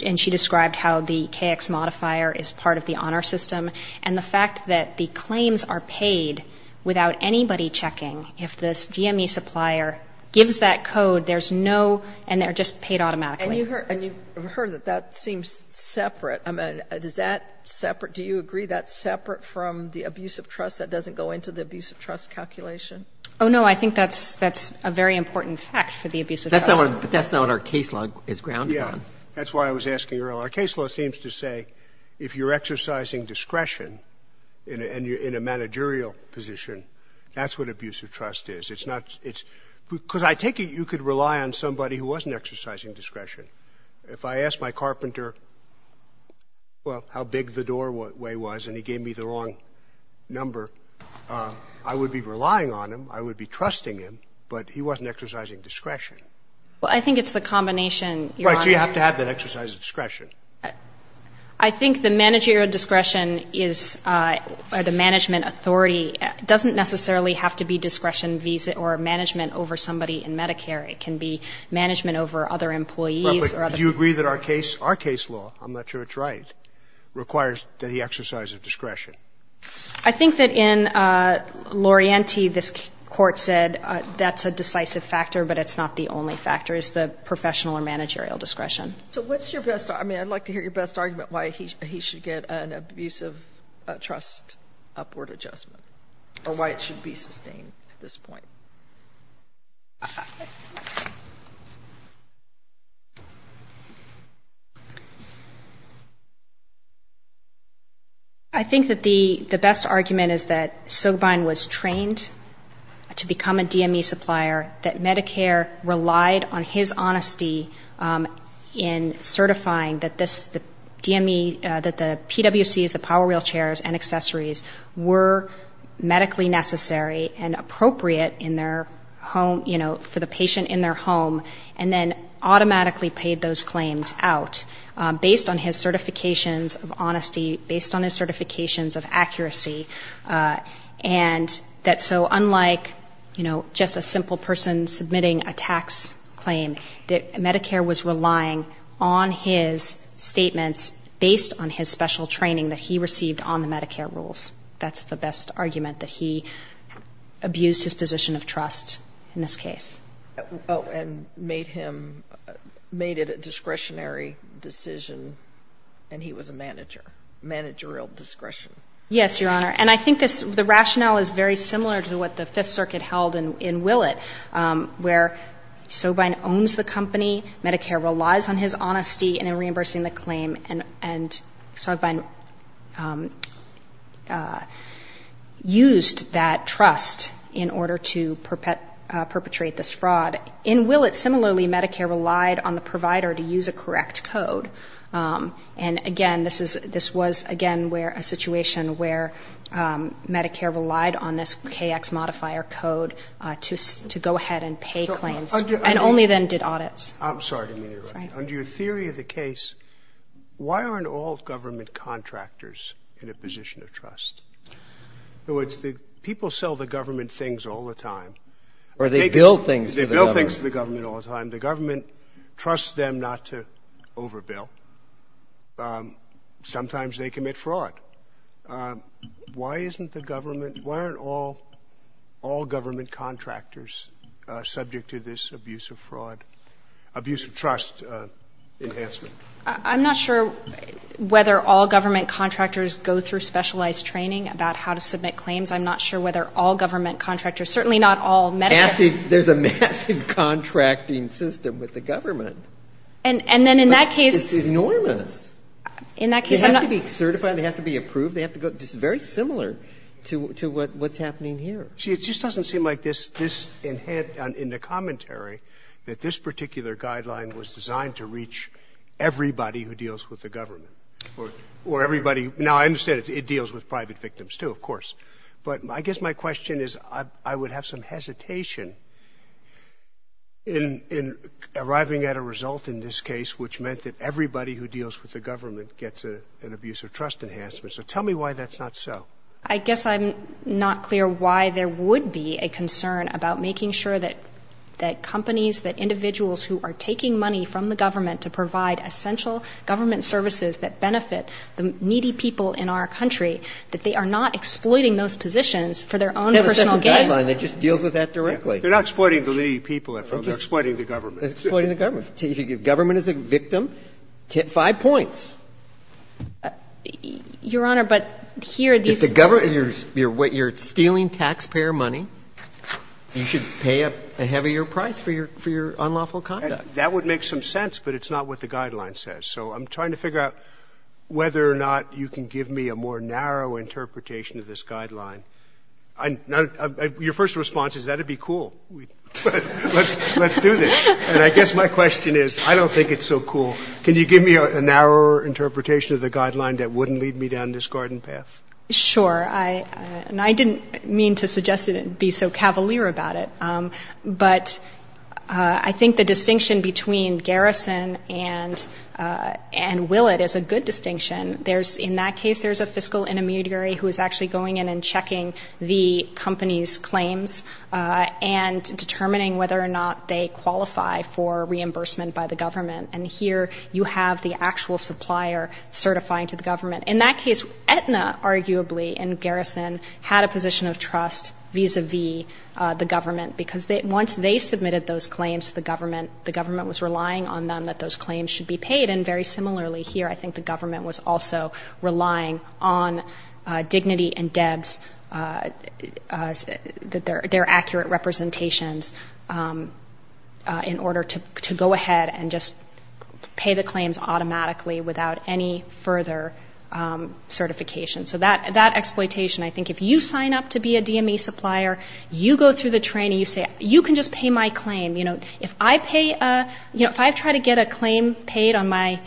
and she described how the KX modifier is part of the honor system, and the fact that the claims are paid without anybody checking. If the GME supplier gives that code, there's no, and they're just paid automatically. And you've heard that that seems separate. I mean, is that separate? Do you agree that's separate from the abuse of trust, that doesn't go into the abuse of trust calculation? Oh, no, I think that's a very important fact for the abuse of trust. That's not our case law. It's ground law. Yeah, that's why I was asking earlier. Our case law seems to say if you're exercising discretion and you're in a managerial position, that's what abuse of trust is. Because I take it you could rely on somebody who wasn't exercising discretion. If I asked my carpenter how big the doorway was and he gave me the wrong number, I would be relying on him, I would be trusting him, but he wasn't exercising discretion. Well, I think it's the combination, Your Honor. Why do you have to have that exercise of discretion? I think the managerial discretion is the management authority. It doesn't necessarily have to be discretion or management over somebody in Medicare. It can be management over other employees. Do you agree that our case law, I'm not sure it's right, requires the exercise of discretion? I think that in Lorienti, this court said that's a decisive factor, but it's not the only factor. It's the professional or managerial discretion. So what's your best argument? I'd like to hear your best argument why he should get an abusive trust upward adjustment or why it should be sustained at this point. I think that the best argument is that Sogbind was trained to become a DMV supplier, that Medicare relied on his honesty in certifying that the PWCs, the power wheelchairs and accessories were medically necessary and appropriate for the patient in their home, and then automatically paid those claims out based on his certifications of honesty, and that so unlike just a simple person submitting a tax claim, that Medicare was relying on his statements based on his special training that he received on the Medicare rules. That's the best argument, that he abused his position of trust in this case. And made it a discretionary decision, and he was a managerial discretion. Yes, Your Honor, and I think the rationale is very similar to what the Fifth Circuit held in Willett, where Sogbind owns the company, Medicare relies on his honesty in reimbursing the claim, and Sogbind used that trust in order to perpetrate this fraud. In Willett, similarly, Medicare relied on the provider to use a correct code. And again, this was again a situation where Medicare relied on this KX modifier code to go ahead and pay claims, and only then did audits. I'm sorry to interrupt. Under your theory of the case, why aren't all government contractors in a position of trust? People sell the government things all the time. Or they bill things to the government. The government trusts them not to overbill. Sometimes they commit fraud. Why aren't all government contractors subject to this abuse of trust enhancement? I'm not sure whether all government contractors go through specialized training about how to submit claims. I'm not sure whether all government contractors, certainly not all, there's a massive contracting system with the government. It's enormous. They have to be certified. They have to be approved. It's very similar to what's happening here. It just doesn't seem like this, in the commentary, that this particular guideline was designed to reach everybody who deals with the government. Now, I understand it deals with private victims, too, of course. But I guess my question is I would have some hesitation in arriving at a result in this case which meant that everybody who deals with the government gets an abuse of trust enhancement. So tell me why that's not so. I guess I'm not clear why there would be a concern about making sure that companies, that individuals who are taking money from the government to provide essential government services that benefit the needy people in our country, that they are not exploiting those positions for their own personal gain. That's the guideline. It just deals with that directly. They're not exploiting the needy people. They're exploiting the government. They're exploiting the government. If the government is a victim, five points. Your Honor, but here these are the... If the government, you're stealing taxpayer money, you should pay a heavier price for your unlawful conduct. That would make some sense, but it's not what the guideline says. So I'm trying to figure out whether or not you can give me a more narrow interpretation of this guideline. Your first response is that would be cool. Let's do this. And I guess my question is I don't think it's so cool. Can you give me a narrower interpretation of the guideline that wouldn't lead me down this garden path? Sure. And I didn't mean to suggest it and be so cavalier about it, but I think the distinction between Garrison and Willett is a good distinction. In that case, there's a fiscal intermediary who is actually going in and checking the company's claims and determining whether or not they qualify for reimbursement by the government. And here you have the actual supplier certifying to the government. In that case, Aetna, arguably, and Garrison had a position of trust vis-a-vis the government because once they submitted those claims to the government, the government was relying on them that those claims should be paid. And very similarly here, I think the government was also relying on dignity and debts, their accurate representations in order to go ahead and just pay the claims automatically without any further certification. So that exploitation, I think if you sign up to be a DME supplier, you go through the training, you say, you can just pay my claim. If I try to get a claim paid on my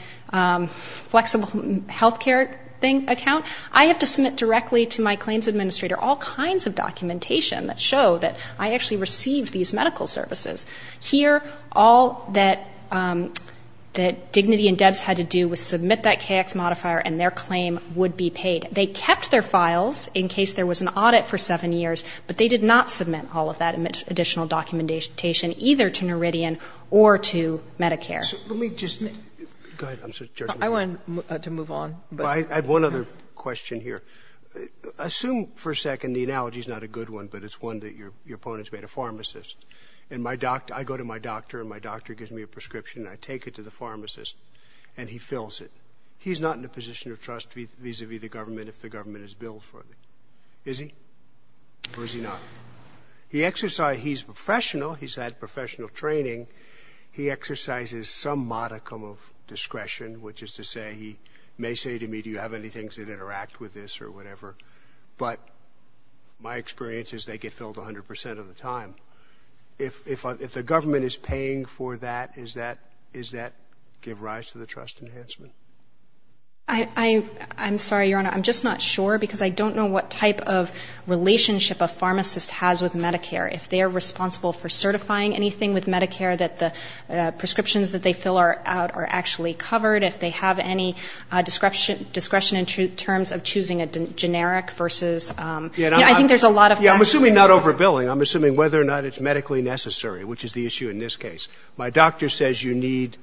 flexible health care account, I have to submit directly to my claims administrator all kinds of documentation that show that I actually received these medical services. Here, all that dignity and debts had to do was submit that KX modifier and their claim would be paid. They kept their files in case there was an audit for seven years, but they did not submit all of that additional documentation, either to Meridian or to Medicare. I want to move on. I have one other question here. Assume for a second, the analogy is not a good one, but it's one that your opponent is a pharmacist. I go to my doctor, and my doctor gives me a prescription, and I take it to the pharmacist, and he fills it. He's not in a position of trust vis-a-vis the government if the government has billed for it. Is he, or is he not? He's professional. He's had professional training. He exercises some modicum of discretion, which is to say he may say to me, do you have any things that interact with this or whatever, but my experience is they get filled 100% of the time. If the government is paying for that, does that give rise to the trust enhancement? I'm sorry, Your Honor. I'm just not sure because I don't know what type of relationship a pharmacist has with Medicare, if they're responsible for certifying anything with Medicare, that the prescriptions that they fill out are actually covered, if they have any discretion in terms of choosing a generic versus ñ I think there's a lot of ñ Yeah, I'm assuming not overbilling. I'm assuming whether or not it's medically necessary, which is the issue in this case. My doctor says you need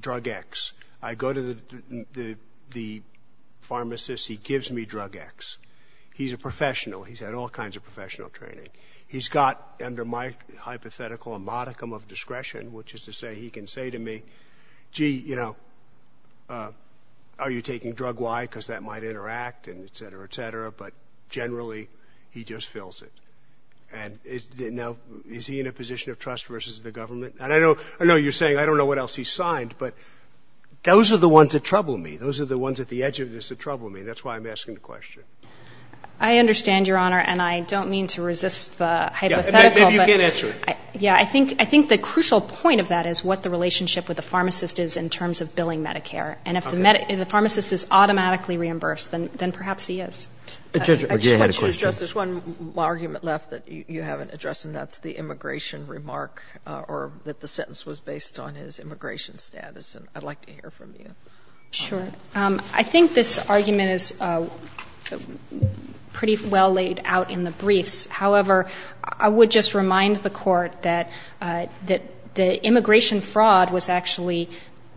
drug X. I go to the pharmacist. He gives me drug X. He's a professional. He's had all kinds of professional training. He's got, under my hypothetical, a modicum of discretion, which is to say he can say to me, gee, you know, are you taking drug Y because that might interact and et cetera, et cetera, but generally he just fills it. Now, is he in a position of trust versus the government? I know you're saying I don't know what else he's signed, but those are the ones that trouble me. Those are the ones at the edge of this that trouble me. That's why I'm asking the question. I understand, Your Honor, and I don't mean to resist the hypothetical. Maybe you can answer it. Yeah, I think the crucial point of that is what the relationship with the pharmacist is in terms of billing Medicare, and if the pharmacist is automatically reimbursed, then perhaps he is. Judge, there's one argument left that you haven't addressed, and that's the immigration remark or that the sentence was based on his immigration status, and I'd like to hear from you. Sure. I think this argument is pretty well laid out in the brief. However, I would just remind the court that the immigration fraud was actually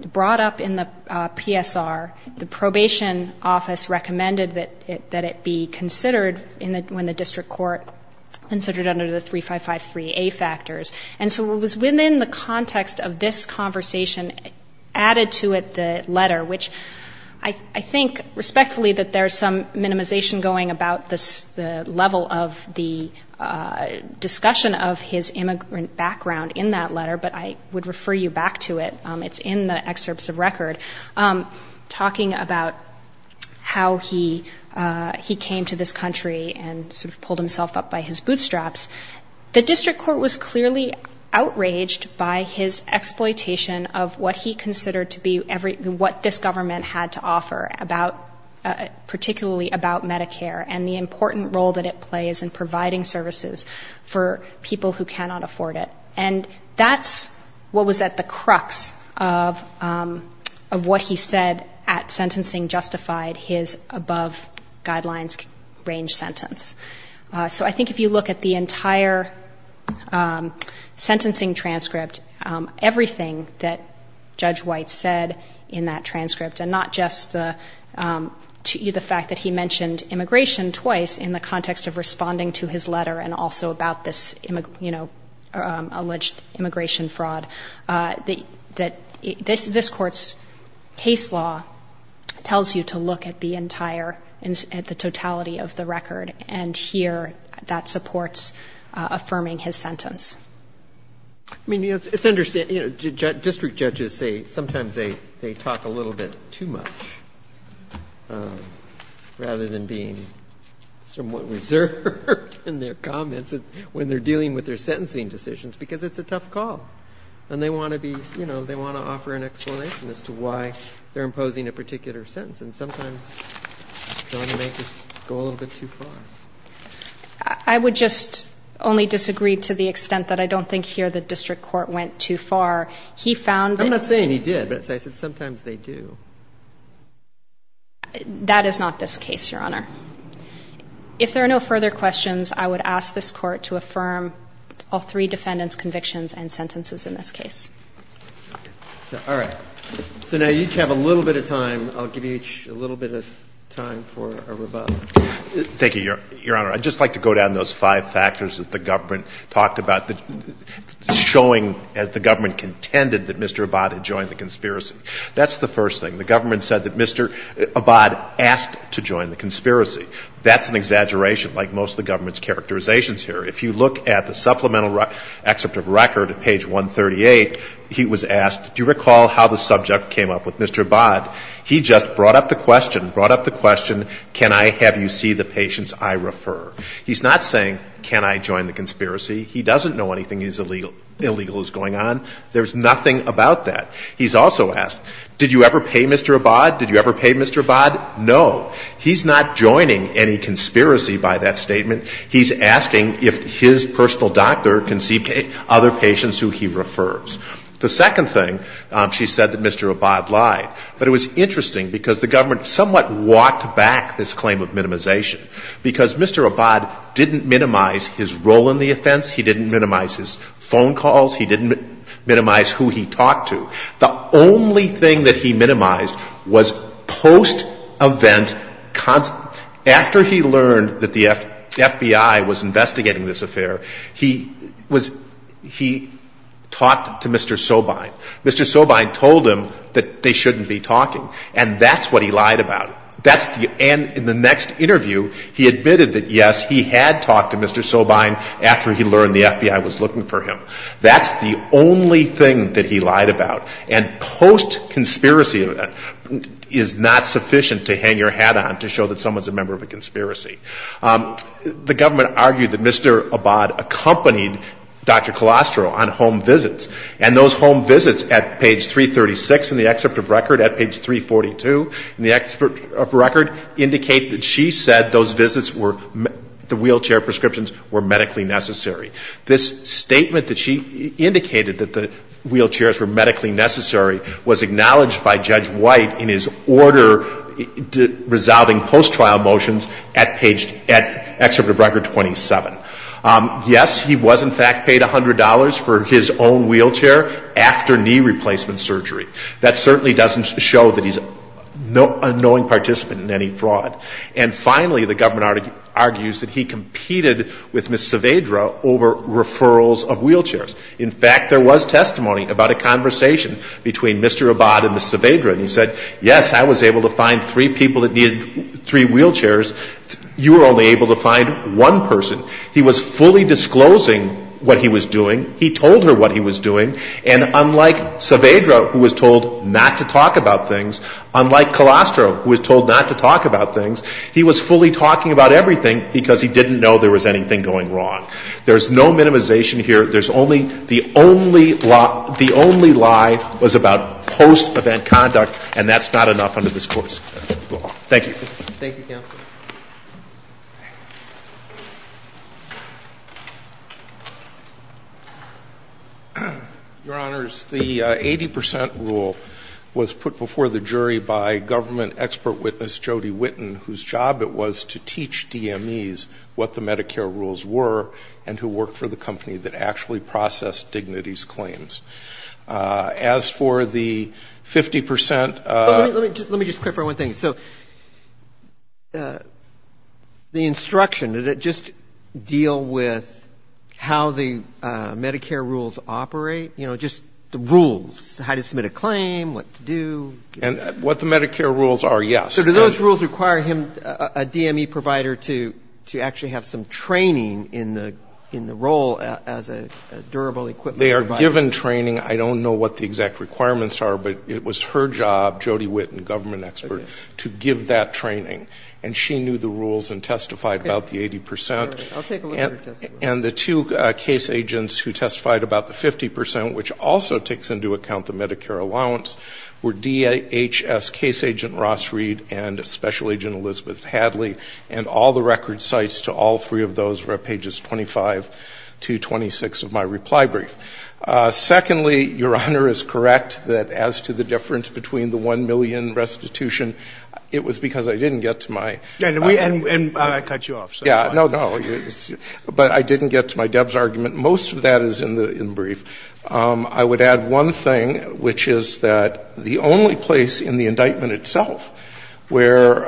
brought up in the PSR. The probation office recommended that it be considered when the district court considered it under the 3553A factors. And so it was within the context of this conversation added to it the letter, which I think respectfully that there's some minimization going about the level of the discussion of his immigrant background in that letter, but I would refer you back to it. It's in the excerpts of record talking about how he came to this country and sort of pulled himself up by his bootstraps. The district court was clearly outraged by his exploitation of what he considered to be what this government had to offer, particularly about Medicare and the important role that it plays in providing services for people who cannot afford it. And that's what was at the crux of what he said at sentencing justified his above guidelines range sentence. So I think if you look at the entire sentencing transcript, everything that Judge White said in that transcript and not just the fact that he mentioned immigration twice in the context of responding to his letter and also about this alleged immigration fraud, this court's case law tells you to look at the totality of the record and here that supports affirming his sentence. District judges say sometimes they talk a little bit too much rather than being somewhat reserved in their comments when they're dealing with their sentencing decisions because it's a tough call and they want to offer an explanation as to why they're imposing a particular sentence and sometimes it's going to go a little bit too far. I would just only disagree to the extent that I don't think here the district court went too far. I'm not saying he did, but I said sometimes they do. That is not this case, Your Honor. If there are no further questions, I would ask this court to affirm all three defendants' convictions and sentences in this case. All right. So now you each have a little bit of time. I'll give you each a little bit of time for a rebuttal. Thank you, Your Honor. I'd just like to go down those five factors that the government talked about, showing as the government contended that Mr. Abad had joined the conspiracy. That's the first thing. The government said that Mr. Abad asked to join the conspiracy. That's an exaggeration like most of the government's characterizations here. If you look at the supplemental except of record at page 138, he was asked, do you recall how the subject came up with Mr. Abad? He just brought up the question, brought up the question, can I have you see the patients I refer? He's not saying can I join the conspiracy. He doesn't know anything illegal is going on. There's nothing about that. He's also asked, did you ever pay Mr. Abad? Did you ever pay Mr. Abad? No. He's not joining any conspiracy by that statement. He's asking if his personal doctor can see other patients who he refers. The second thing, she said that Mr. Abad lied. But it was interesting because the government somewhat walked back this claim of minimization because Mr. Abad didn't minimize his role in the offense. He didn't minimize his phone calls. He didn't minimize who he talked to. The only thing that he minimized was post-event, after he learned that the FBI was investigating this affair, he talked to Mr. Sobine. Mr. Sobine told him that they shouldn't be talking. And that's what he lied about. And in the next interview, he admitted that, yes, he had talked to Mr. Sobine after he learned the FBI was looking for him. That's the only thing that he lied about. And post-conspiracy event is not sufficient to hang your hat on to show that someone's a member of a conspiracy. The government argued that Mr. Abad accompanied Dr. Colostro on home visits. And those home visits at page 336 in the excerpt of record, at page 342 in the excerpt of record, indicate that she said those visits were, the wheelchair prescriptions were medically necessary. This statement that she indicated that the wheelchairs were medically necessary was acknowledged by Judge White in his order resolving post-trial motions at page, at excerpt of record 27. Yes, he was in fact paid $100 for his own wheelchair after knee replacement surgery. That certainly doesn't show that he's a knowing participant in any fraud. And finally, the government argues that he competed with Ms. Saavedra over referrals of wheelchairs. In fact, there was testimony about a conversation between Mr. Abad and Ms. Saavedra. He said, yes, I was able to find three people that needed three wheelchairs. You were only able to find one person. He was fully disclosing what he was doing. He told her what he was doing. And unlike Saavedra, who was told not to talk about things, unlike Colastro, who was told not to talk about things, he was fully talking about everything because he didn't know there was anything going wrong. There's no minimization here. There's only, the only lie was about post-event conduct, and that's not enough under this course. Thank you. Your Honors, the 80% rule was put before the jury by government expert witness Jody Whitten, whose job it was to teach DMEs what the Medicare rules were and who worked for the company that actually processed Dignity's claims. As for the 50% rule, Let me just clarify one thing. So the instruction, did it just deal with how the Medicare rules operate? You know, just the rules, how to submit a claim, what to do. And what the Medicare rules are, yes. So do those rules require him, a DME provider, to actually have some training in the role as a durable equipment provider? They are given training. I don't know what the exact requirements are, but it was her job, Jody Whitten, government expert, to give that training. And she knew the rules and testified about the 80%. And the two case agents who testified about the 50%, which also takes into account the Medicare allowance, were DHS case agent Ross Reed and special agent Elizabeth Hadley. And all the record sites to all three of those were at pages 25 to 26 of my reply brief. Secondly, Your Honor is correct that as to the difference between the 1 million restitution, it was because I didn't get to my... And I cut you off. No, no. But I didn't get to my DEBS argument. Most of that is in the brief. I would add one thing, which is that the only place in the indictment itself where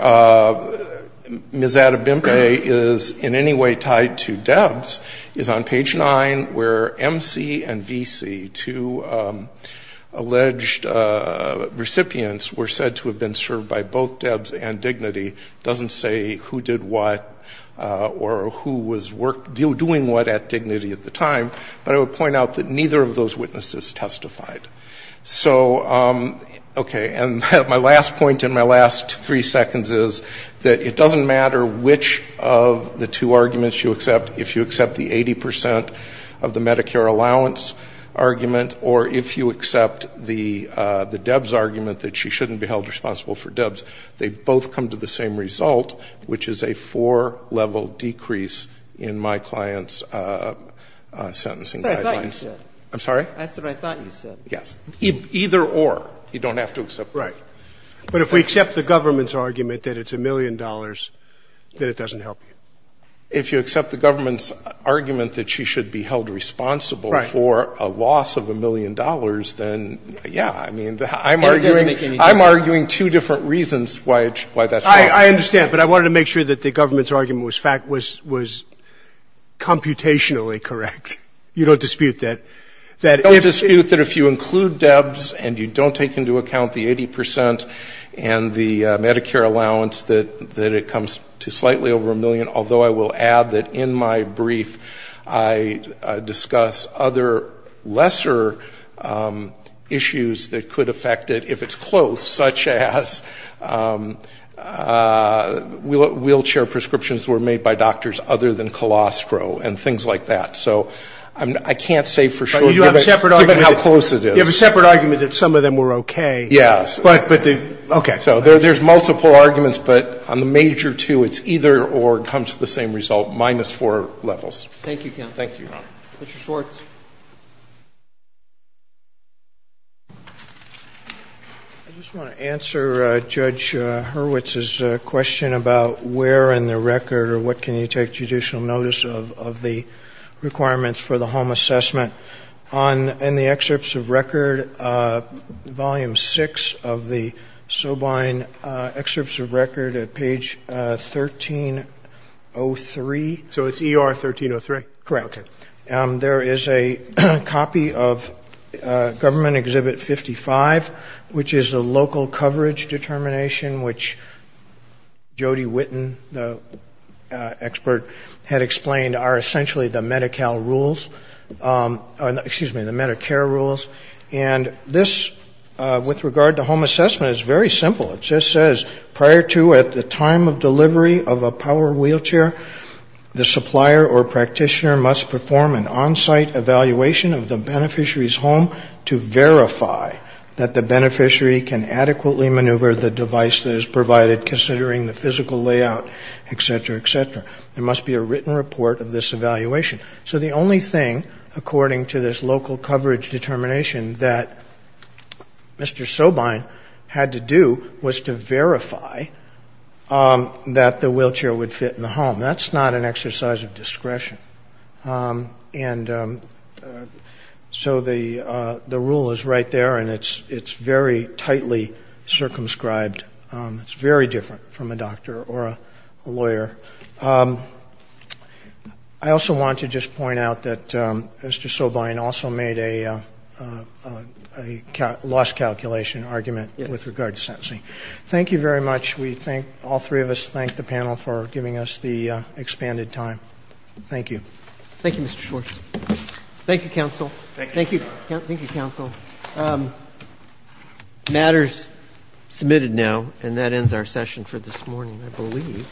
Ms. Adabimpe is in any way tied to DEBS is on page 9 where MC and VC, two alleged recipients, were said to have been served by both DEBS and Dignity. It doesn't say who did what or who was doing what at Dignity at the time, but I would point out that neither of those witnesses testified. So, okay. And my last point in my last three seconds is that it doesn't matter which of the two arguments you accept. If you accept the 80% of the Medicare allowance argument or if you accept the DEBS argument that she shouldn't be held responsible for DEBS, they both come to the same result, which is a four-level decrease in my client's sentencing. That's what I thought you said. I'm sorry? That's what I thought you said. Yes. Either or. You don't have to accept. Right. But if we accept the government's argument that it's a million dollars, then it doesn't help you. If you accept the government's argument that she should be held responsible for a loss of a million dollars, then, yeah, I mean, I'm arguing two different reasons why that's true. I understand, but I wanted to make sure that the government's argument was fact, was computationally correct. You don't dispute that. I don't dispute that if you include DEBS and you don't take into account the 80% and the Medicare allowance that it comes to slightly over a million, although I will add that in my brief I discuss other lesser issues that could affect it if it's close, such as wheelchair prescriptions were made by doctors other than Colostro and things like that. So I can't say for sure how close it is. You have a separate argument that some of them were okay. Yeah. Okay. So there's multiple arguments, but on the major two, it's either or. It comes to the same result, minus four levels. Thank you, Ken. Thank you. Mr. Schwartz. I just want to answer Judge Hurwitz's question about where in the record or what can you take judicial notice of the requirements for the home assessment. In the Excerpts of Record, Volume 6 of the Sobein Excerpts of Record at page 1303. So it's ER 1303? Correct. There is a copy of Government Exhibit 55, which is a local coverage determination, which Jody Witten, the expert, had explained are essentially the Medicare rules. And this, with regard to home assessment, is very simple. It just says, prior to at the time of delivery of a power wheelchair, the supplier or practitioner must perform an on-site evaluation of the beneficiary's home to verify that the beneficiary can adequately maneuver the device that is provided, considering the physical layout, et cetera, et cetera. There must be a written report of this evaluation. So the only thing, according to this local coverage determination that Mr. Sobein had to do, was to verify that the wheelchair would fit in the home. That's not an exercise of discretion. And so the rule is right there, and it's very tightly circumscribed. It's very different from a doctor or a lawyer. I also want to just point out that Mr. Sobein also made a loss calculation argument with regard to sentencing. Thank you very much. All three of us thank the panel for giving us the expanded time. Thank you. Thank you, Mr. Schwartz. Thank you, counsel. Thank you. Thank you, counsel. Matters submitted now, and that ends our session for this morning, I believe.